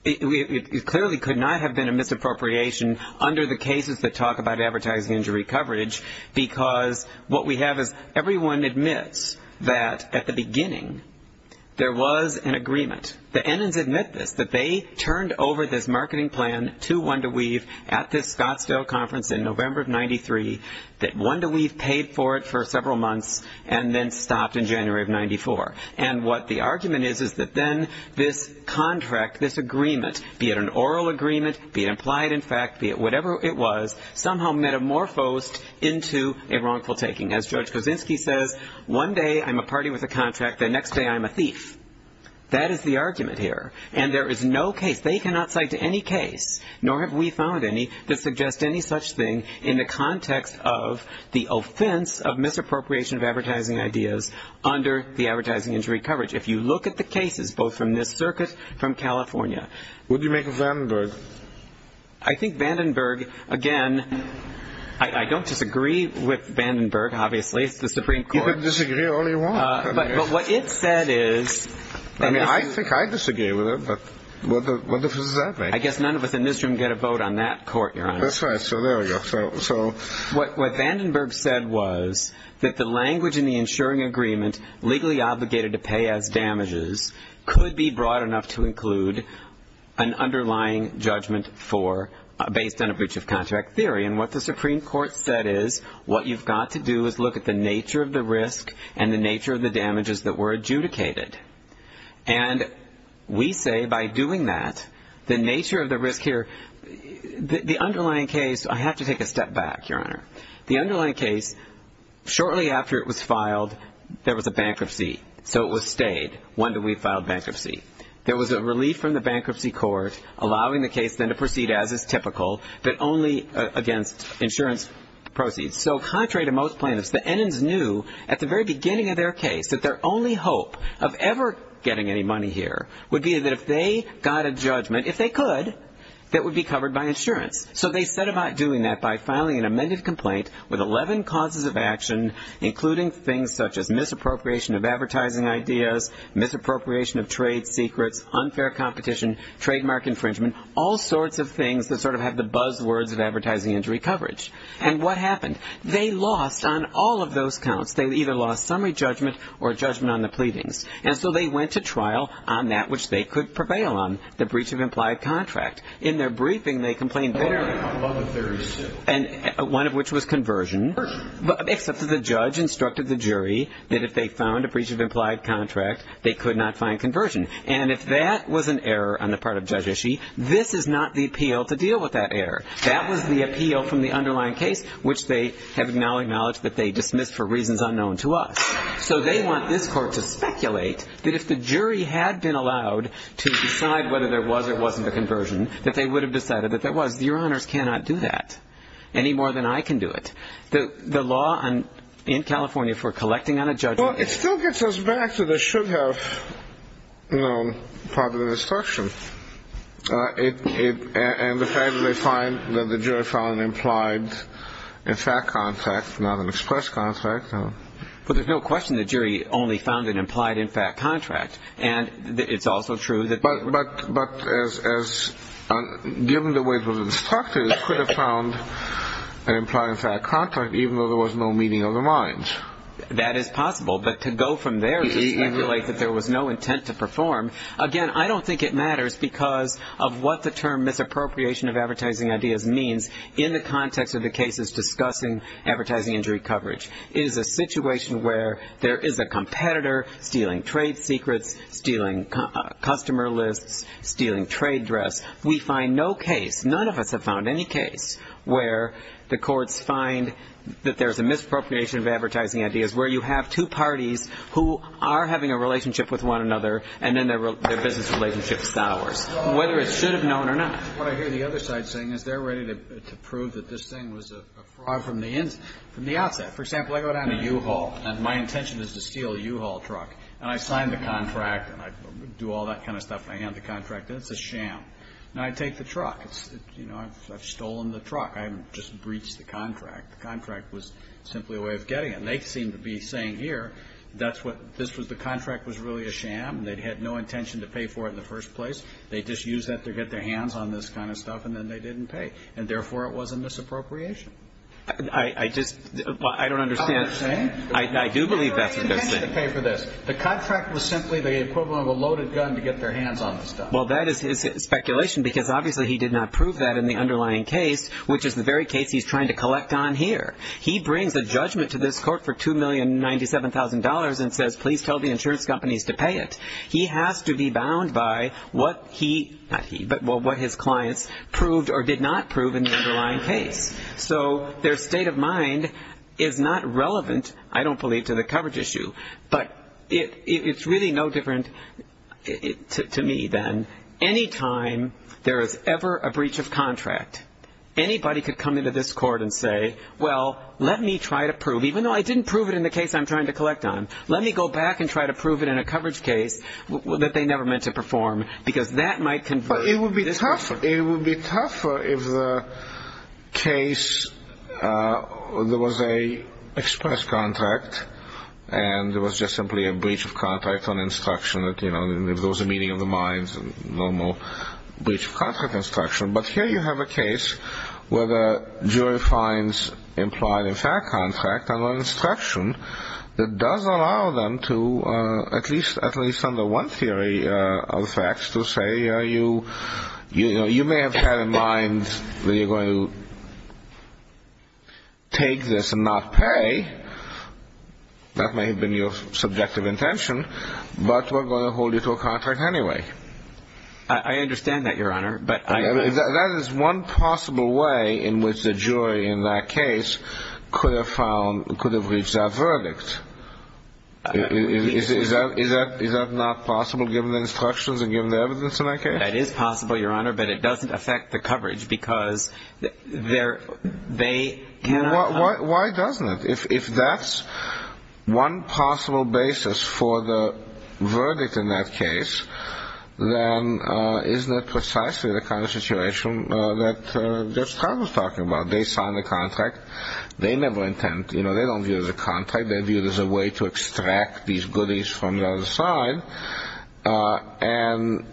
It clearly could not have been a misappropriation under the cases that talk about advertising injury coverage because what we have is everyone admits that at the beginning there was an agreement. The Enns admit this, that they turned over this marketing plan to One to Weave at this Scottsdale conference in November of 93, that One to Weave paid for it for several months and then stopped in January of 94. And what the argument is is that then this contract, this agreement, be it an oral agreement, be it implied in fact, be it whatever it was, somehow metamorphosed into a wrongful taking. As George Kosinski says, one day I'm a party with a contract, the next day I'm a thief. That is the argument here. And there is no case, they cannot cite any case, nor have we found any, to suggest any such thing in the context of the offense of misappropriation of advertising ideas under the advertising injury coverage. If you look at the cases, both from this circuit, from California. What do you make of Vandenberg? I think Vandenberg, again, I don't disagree with Vandenberg, obviously, it's the Supreme Court. You can disagree all you want. But what it said is... I mean, I think I disagree with it, but what difference does that make? I guess none of us in this room get a vote on that court, Your Honor. That's right, so there we go. What Vandenberg said was that the language in the insuring agreement, legally obligated to pay as damages, could be broad enough to include an underlying judgment based on a breach of contract theory. And what the Supreme Court said is, what you've got to do is look at the nature of the risk and the nature of the damages that were adjudicated. And we say by doing that, the nature of the risk here, the underlying case... I have to take a step back, Your Honor. The underlying case, shortly after it was filed, there was a bankruptcy, so it was stayed. When did we file bankruptcy? There was a relief from the bankruptcy court, allowing the case then to proceed as is typical, but only against insurance proceeds. So contrary to most plaintiffs, the enons knew at the very beginning of their case that their only hope of ever getting any money here would be that if they got a judgment, if they could, that would be covered by insurance. So they set about doing that by filing an amended complaint with 11 causes of action, including things such as misappropriation of advertising ideas, misappropriation of trade secrets, unfair competition, trademark infringement, all sorts of things that sort of have the buzzwords of advertising injury coverage. And what happened? They lost on all of those counts. They either lost summary judgment or judgment on the pleadings. And so they went to trial on that which they could prevail on, the breach of implied contract. In their briefing, they complained bitterly about one of which was conversion, except that the judge instructed the jury that if they found a breach of implied contract, they could not find conversion. And if that was an error on the part of Judge Ishii, this is not the appeal to deal with that error. That was the appeal from the underlying case, which they have now acknowledged that they dismissed for reasons unknown to us. So they want this court to speculate that if the jury had been allowed to decide whether there was or wasn't a conversion, that they would have decided that there was. Your honors cannot do that any more than I can do it. The law in California for collecting on a judgment. Well, it still gets us back to the should have, you know, part of the destruction. And the fact that they find that the jury found an implied in fact contract, not an express contract. But there's no question the jury only found an implied in fact contract. And it's also true that. But given the way it was instructed, it could have found an implied in fact contract even though there was no meeting of the minds. That is possible. But to go from there to speculate that there was no intent to perform, again, I don't think it matters because of what the term misappropriation of advertising ideas means in the context of the cases discussing advertising injury coverage. It is a situation where there is a competitor stealing trade secrets, stealing customer lists, stealing trade dress. We find no case, none of us have found any case, where the courts find that there's a misappropriation of advertising ideas, where you have two parties who are having a relationship with one another and then their business relationship sours, whether it should have known or not. What I hear the other side saying is they're ready to prove that this thing was a fraud from the outset. For example, I go down to U-Haul and my intention is to steal a U-Haul truck. And I sign the contract and I do all that kind of stuff. I hand the contract in. It's a sham. And I take the truck. It's, you know, I've stolen the truck. I haven't just breached the contract. The contract was simply a way of getting it. And they seem to be saying here, that's what, this was, the contract was really a sham. They had no intention to pay for it in the first place. They just used that to get their hands on this kind of stuff and then they didn't pay. And, therefore, it was a misappropriation. I just, I don't understand. I don't understand. I do believe that's what they're saying. They had no intention to pay for this. The contract was simply the equivalent of a loaded gun to get their hands on this stuff. Well, that is his speculation because, obviously, he did not prove that in the underlying case, which is the very case he's trying to collect on here. He brings a judgment to this court for $2,097,000 and says, please tell the insurance companies to pay it. He has to be bound by what he, not he, but what his clients proved or did not prove in the underlying case. So their state of mind is not relevant, I don't believe, to the coverage issue. But it's really no different to me then. Any time there is ever a breach of contract, anybody could come into this court and say, well, let me try to prove, even though I didn't prove it in the case I'm trying to collect on, let me go back and try to prove it in a coverage case that they never meant to perform because that might convert. It would be tougher if the case, there was a express contract, and there was just simply a breach of contract on instruction, if there was a meeting of the minds, a normal breach of contract instruction. But here you have a case where the jury finds implied and fair contract under instruction that does allow them to, at least under one theory of facts, to say, you may have had in mind that you're going to take this and not pay. That may have been your subjective intention, but we're going to hold you to a contract anyway. I understand that, Your Honor. That is one possible way in which the jury in that case could have found, could have reached that verdict. Is that not possible given the instructions and given the evidence in that case? That is possible, Your Honor, but it doesn't affect the coverage because they cannot. Why doesn't it? If that's one possible basis for the verdict in that case, then isn't it precisely the kind of situation that Judge Trump was talking about? They signed the contract. They never intend, you know, they don't view it as a contract. They view it as a way to extract these goodies from the other side. And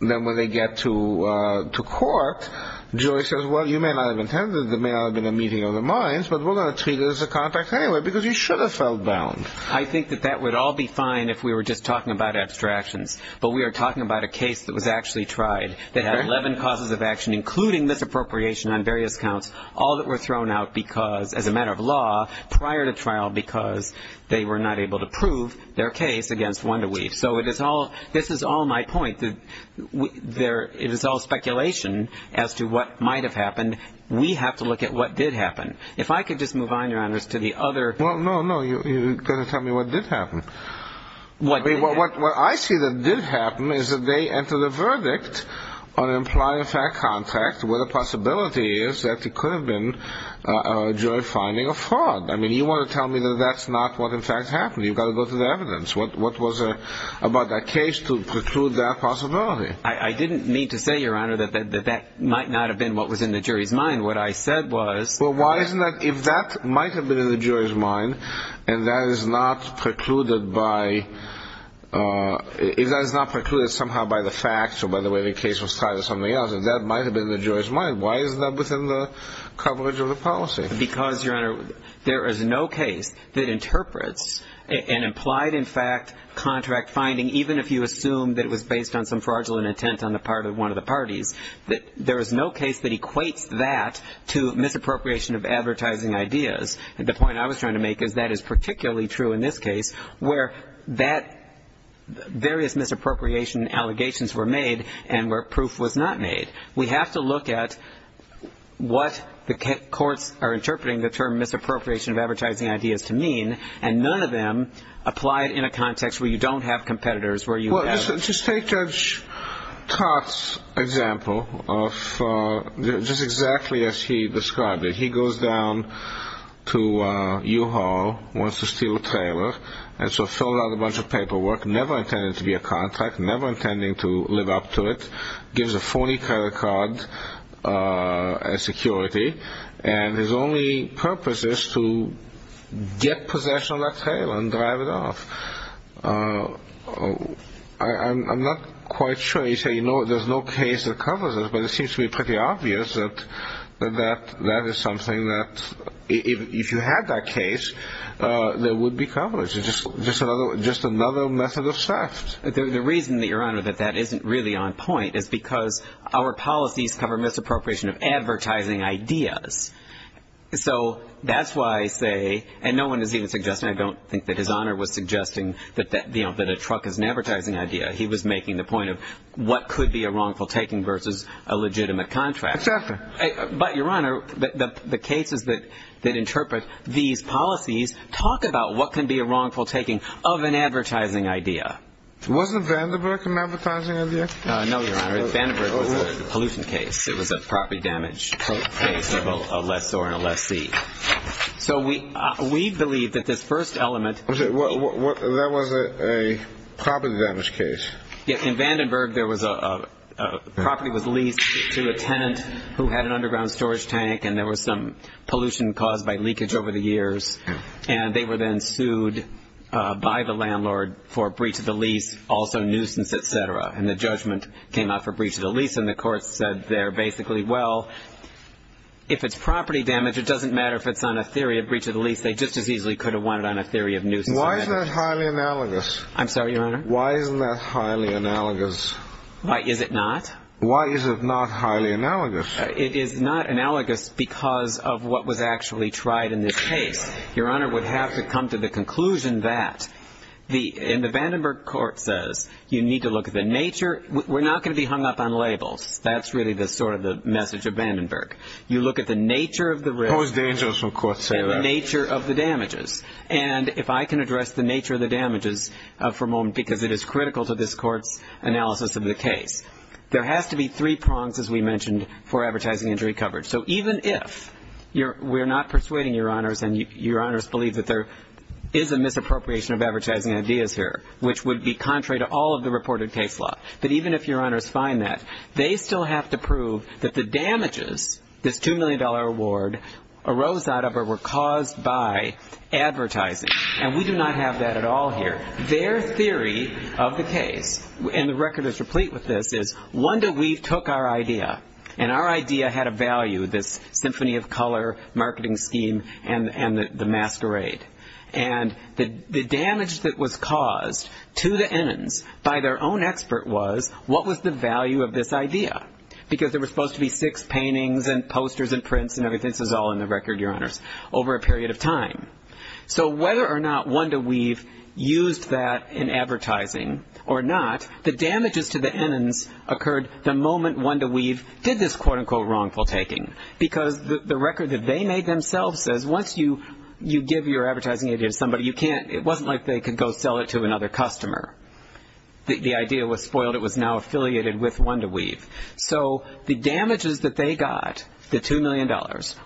then when they get to court, the jury says, well, you may not have intended it. It may not have been a meeting of the minds, but we're going to treat it as a contract anyway because you should have felt bound. I think that that would all be fine if we were just talking about abstractions, but we are talking about a case that was actually tried. They had 11 causes of action, including misappropriation on various counts, all that were thrown out as a matter of law prior to trial because they were not able to prove their case against Wunderweef. So this is all my point. It is all speculation as to what might have happened. We have to look at what did happen. If I could just move on, Your Honor, to the other. Well, no, no. You're going to tell me what did happen. What I see that did happen is that they entered a verdict on an implied-in-fact contract where the possibility is that it could have been a jury finding of fraud. I mean, you want to tell me that that's not what in fact happened. You've got to go to the evidence. What was it about that case to preclude that possibility? I didn't mean to say, Your Honor, that that might not have been what was in the jury's mind. What I said was. Well, if that might have been in the jury's mind and that is not precluded somehow by the facts or by the way the case was tried or something else, if that might have been in the jury's mind, why is that within the coverage of the policy? Because, Your Honor, there is no case that interprets an implied-in-fact contract finding, even if you assume that it was based on some fraudulent intent on the part of one of the parties, that there is no case that equates that to misappropriation of advertising ideas. The point I was trying to make is that is particularly true in this case where various misappropriation allegations were made and where proof was not made. We have to look at what the courts are interpreting the term misappropriation of advertising ideas to mean, and none of them apply it in a context where you don't have competitors, where you have. Well, just take Judge Tots' example, just exactly as he described it. He goes down to U-Haul, wants to steal a trailer, and so fills out a bunch of paperwork, never intending to be a contract, never intending to live up to it, gives a phony credit card as security, and his only purpose is to get possession of that trailer and drive it off. I'm not quite sure. You say, you know, there's no case that covers it, but it seems to be pretty obvious that that is something that, if you had that case, there would be coverage. It's just another method of theft. The reason, Your Honor, that that isn't really on point is because our policies cover misappropriation of advertising ideas. So that's why I say, and no one is even suggesting, I don't think that His Honor was suggesting that a truck is an advertising idea. He was making the point of what could be a wrongful taking versus a legitimate contract. Exactly. But, Your Honor, the cases that interpret these policies talk about what can be a wrongful taking of an advertising idea. Wasn't Vanderbilt an advertising idea? No, Your Honor. Vandenberg was a pollution case. It was a property damage case of a lessor and a lessee. So we believe that this first element. That was a property damage case. Yes. In Vandenberg, a property was leased to a tenant who had an underground storage tank, and there was some pollution caused by leakage over the years, and they were then sued by the landlord for breach of the lease, also nuisance, et cetera. And the judgment came out for breach of the lease, and the court said there basically, well, if it's property damage, it doesn't matter if it's on a theory of breach of the lease. They just as easily could have won it on a theory of nuisance. Why isn't that highly analogous? I'm sorry, Your Honor? Why isn't that highly analogous? Why is it not? Why is it not highly analogous? It is not analogous because of what was actually tried in this case. Your Honor would have to come to the conclusion that, and the Vandenberg court says you need to look at the nature. We're not going to be hung up on labels. That's really sort of the message of Vandenberg. You look at the nature of the risk. How dangerous will courts say that? The nature of the damages. And if I can address the nature of the damages for a moment, because it is critical to this court's analysis of the case. There has to be three prongs, as we mentioned, for advertising injury coverage. So even if we're not persuading Your Honors, and Your Honors believe that there is a misappropriation of advertising ideas here, which would be contrary to all of the reported case law, that even if Your Honors find that, they still have to prove that the damages, this $2 million award, arose out of or were caused by advertising. And we do not have that at all here. Their theory of the case, and the record is complete with this, is Wanda Weave took our idea, and our idea had a value, this symphony of color, marketing scheme, and the masquerade. And the damage that was caused to the Ennens by their own expert was, what was the value of this idea? Because there were supposed to be six paintings and posters and prints and everything. This is all in the record, Your Honors, over a period of time. So whether or not Wanda Weave used that in advertising or not, the damages to the Ennens occurred the moment Wanda Weave did this quote-unquote wrongful taking. Because the record that they made themselves says, once you give your advertising idea to somebody, it wasn't like they could go sell it to another customer. The idea was spoiled. It was now affiliated with Wanda Weave. So the damages that they got, the $2 million,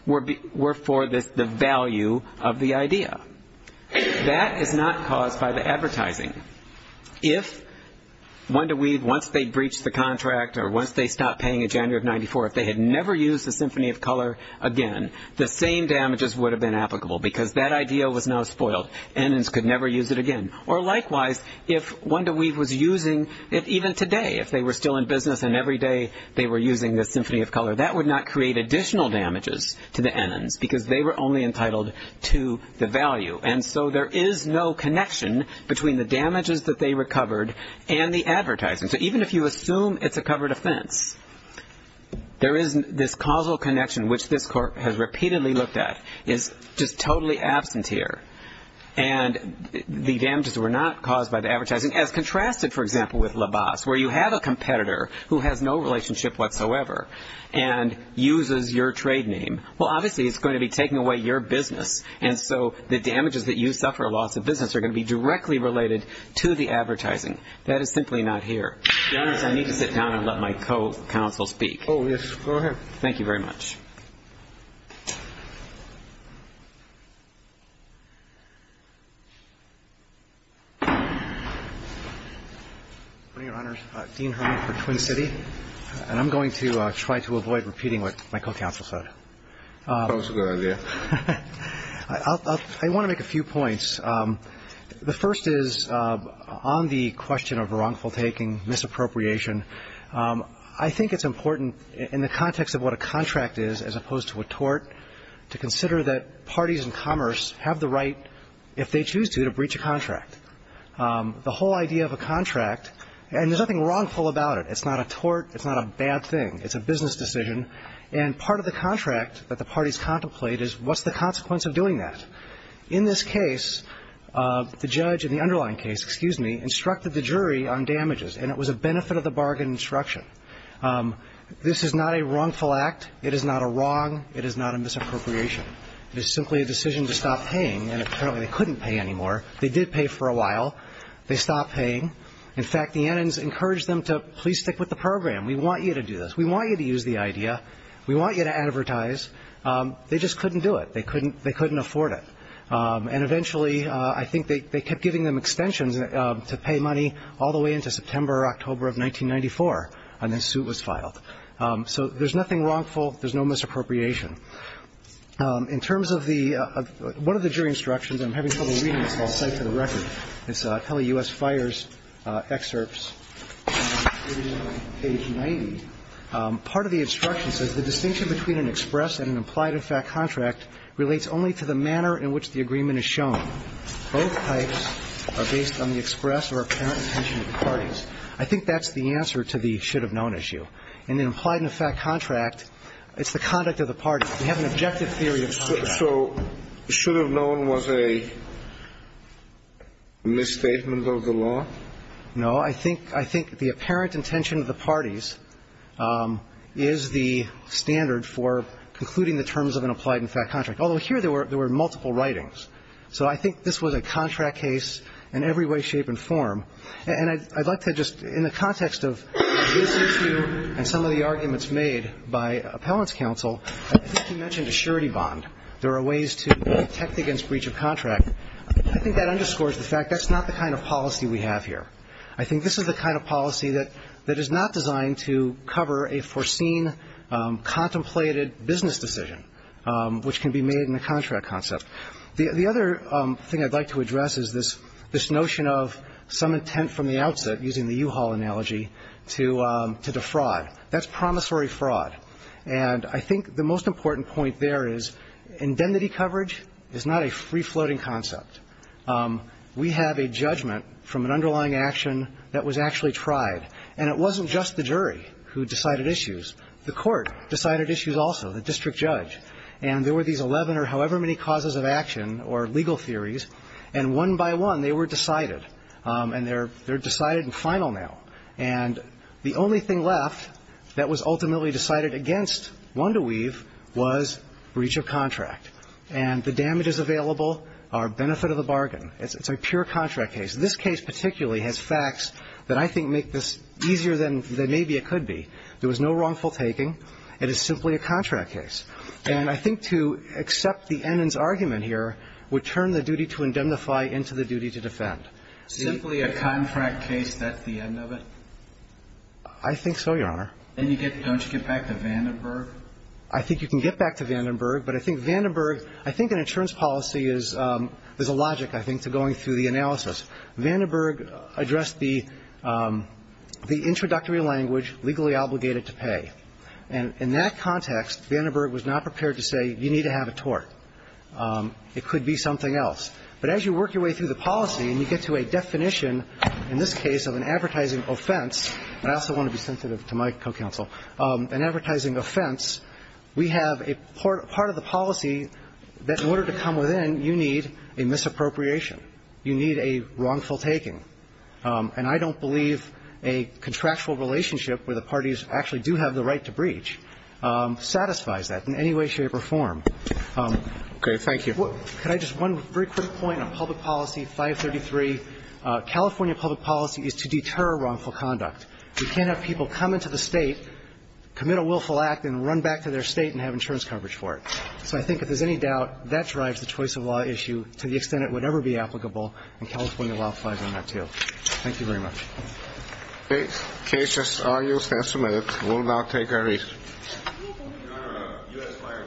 were for the value of the idea. That is not caused by the advertising. If Wanda Weave, once they breached the contract or once they stopped paying in January of 1994, if they had never used the symphony of color again, the same damages would have been applicable because that idea was now spoiled. Ennens could never use it again. Or likewise, if Wanda Weave was using it even today, if they were still in business and every day they were using the symphony of color, that would not create additional damages to the Ennens because they were only entitled to the value. And so there is no connection between the damages that they recovered and the advertising. So even if you assume it's a covered offense, there is this causal connection, which this court has repeatedly looked at, is just totally absent here. And the damages were not caused by the advertising, as contrasted, for example, with LaBasse, where you have a competitor who has no relationship whatsoever and uses your trade name. Well, obviously, it's going to be taking away your business. And so the damages that you suffer, a loss of business, are going to be directly related to the advertising. That is simply not here. Your Honors, I need to sit down and let my co-counsel speak. Oh, yes. Go ahead. Thank you very much. Good morning, Your Honors. Dean Herman for Twin City. And I'm going to try to avoid repeating what my co-counsel said. That was a good idea. I want to make a few points. The first is, on the question of wrongful taking, misappropriation, I think it's important in the context of what a contract is, as opposed to a tort, to consider that parties in commerce have the right, if they choose to, to breach a contract. The whole idea of a contract, and there's nothing wrongful about it. It's not a tort. It's not a bad thing. It's a business decision. And part of the contract that the parties contemplate is, what's the consequence of doing that? In this case, the judge in the underlying case, excuse me, instructed the jury on damages, and it was a benefit of the bargain instruction. This is not a wrongful act. It is not a wrong. It is not a misappropriation. It is simply a decision to stop paying, and apparently they couldn't pay anymore. They did pay for a while. They stopped paying. In fact, the ends encouraged them to, please stick with the program. We want you to do this. We want you to use the idea. We want you to advertise. They just couldn't do it. They couldn't afford it. And eventually, I think they kept giving them extensions to pay money all the way into September or October of 1994, and then the suit was filed. So there's nothing wrongful. There's no misappropriation. In terms of the one of the jury instructions, I'm having trouble reading this, but I'll cite it for the record. It's Kelly U.S. Fires' excerpts, page 90. Part of the instruction says, The distinction between an express and an implied-in-fact contract relates only to the manner in which the agreement is shown. Both types are based on the express or apparent intention of the parties. I think that's the answer to the should-have-known issue. In the implied-in-fact contract, it's the conduct of the parties. We have an objective theory of contract. So should-have-known was a misstatement of the law? No. I think the apparent intention of the parties is the standard for concluding the terms of an applied-in-fact contract, although here there were multiple writings. So I think this was a contract case in every way, shape, and form. And I'd like to just, in the context of this issue and some of the arguments made by appellants' counsel, I think you mentioned a surety bond. There are ways to protect against breach of contract. I think that underscores the fact that's not the kind of policy we have here. I think this is the kind of policy that is not designed to cover a foreseen, contemplated business decision, which can be made in a contract concept. The other thing I'd like to address is this notion of some intent from the outset, using the U-Haul analogy, to defraud. That's promissory fraud. And I think the most important point there is indemnity coverage is not a free-floating concept. We have a judgment from an underlying action that was actually tried. And it wasn't just the jury who decided issues. The court decided issues also, the district judge. And there were these 11 or however many causes of action or legal theories, and one by one they were decided. And they're decided and final now. And the only thing left that was ultimately decided against WandaWeave was breach of contract. And the damages available are benefit of the bargain. It's a pure contract case. This case particularly has facts that I think make this easier than maybe it could be. There was no wrongful taking. It is simply a contract case. And I think to accept the Ennens argument here would turn the duty to indemnify into the duty to defend. Simply a contract case, that's the end of it? I think so, Your Honor. Then you get, don't you get back to Vandenberg? I think you can get back to Vandenberg. But I think Vandenberg, I think an insurance policy is, there's a logic, I think, to going through the analysis. Vandenberg addressed the introductory language, legally obligated to pay. And in that context, Vandenberg was not prepared to say you need to have a tort. It could be something else. But as you work your way through the policy and you get to a definition, in this case, of an advertising offense, and I also want to be sensitive to my co-counsel, an advertising offense, we have a part of the policy that in order to come within, you need a misappropriation. You need a wrongful taking. And I don't believe a contractual relationship where the parties actually do have the right to breach satisfies that in any way, shape or form. Okay. Thank you. Could I just, one very quick point on public policy, 533. California public policy is to deter wrongful conduct. You can't have people come into the State, commit a willful act, and run back to their State and have insurance coverage for it. So I think if there's any doubt, that drives the choice of law issue to the extent it would ever be applicable, and California law applies on that, too. Thank you very much. Okay. Cases are used as submitted. We'll now take our recess. Thank you.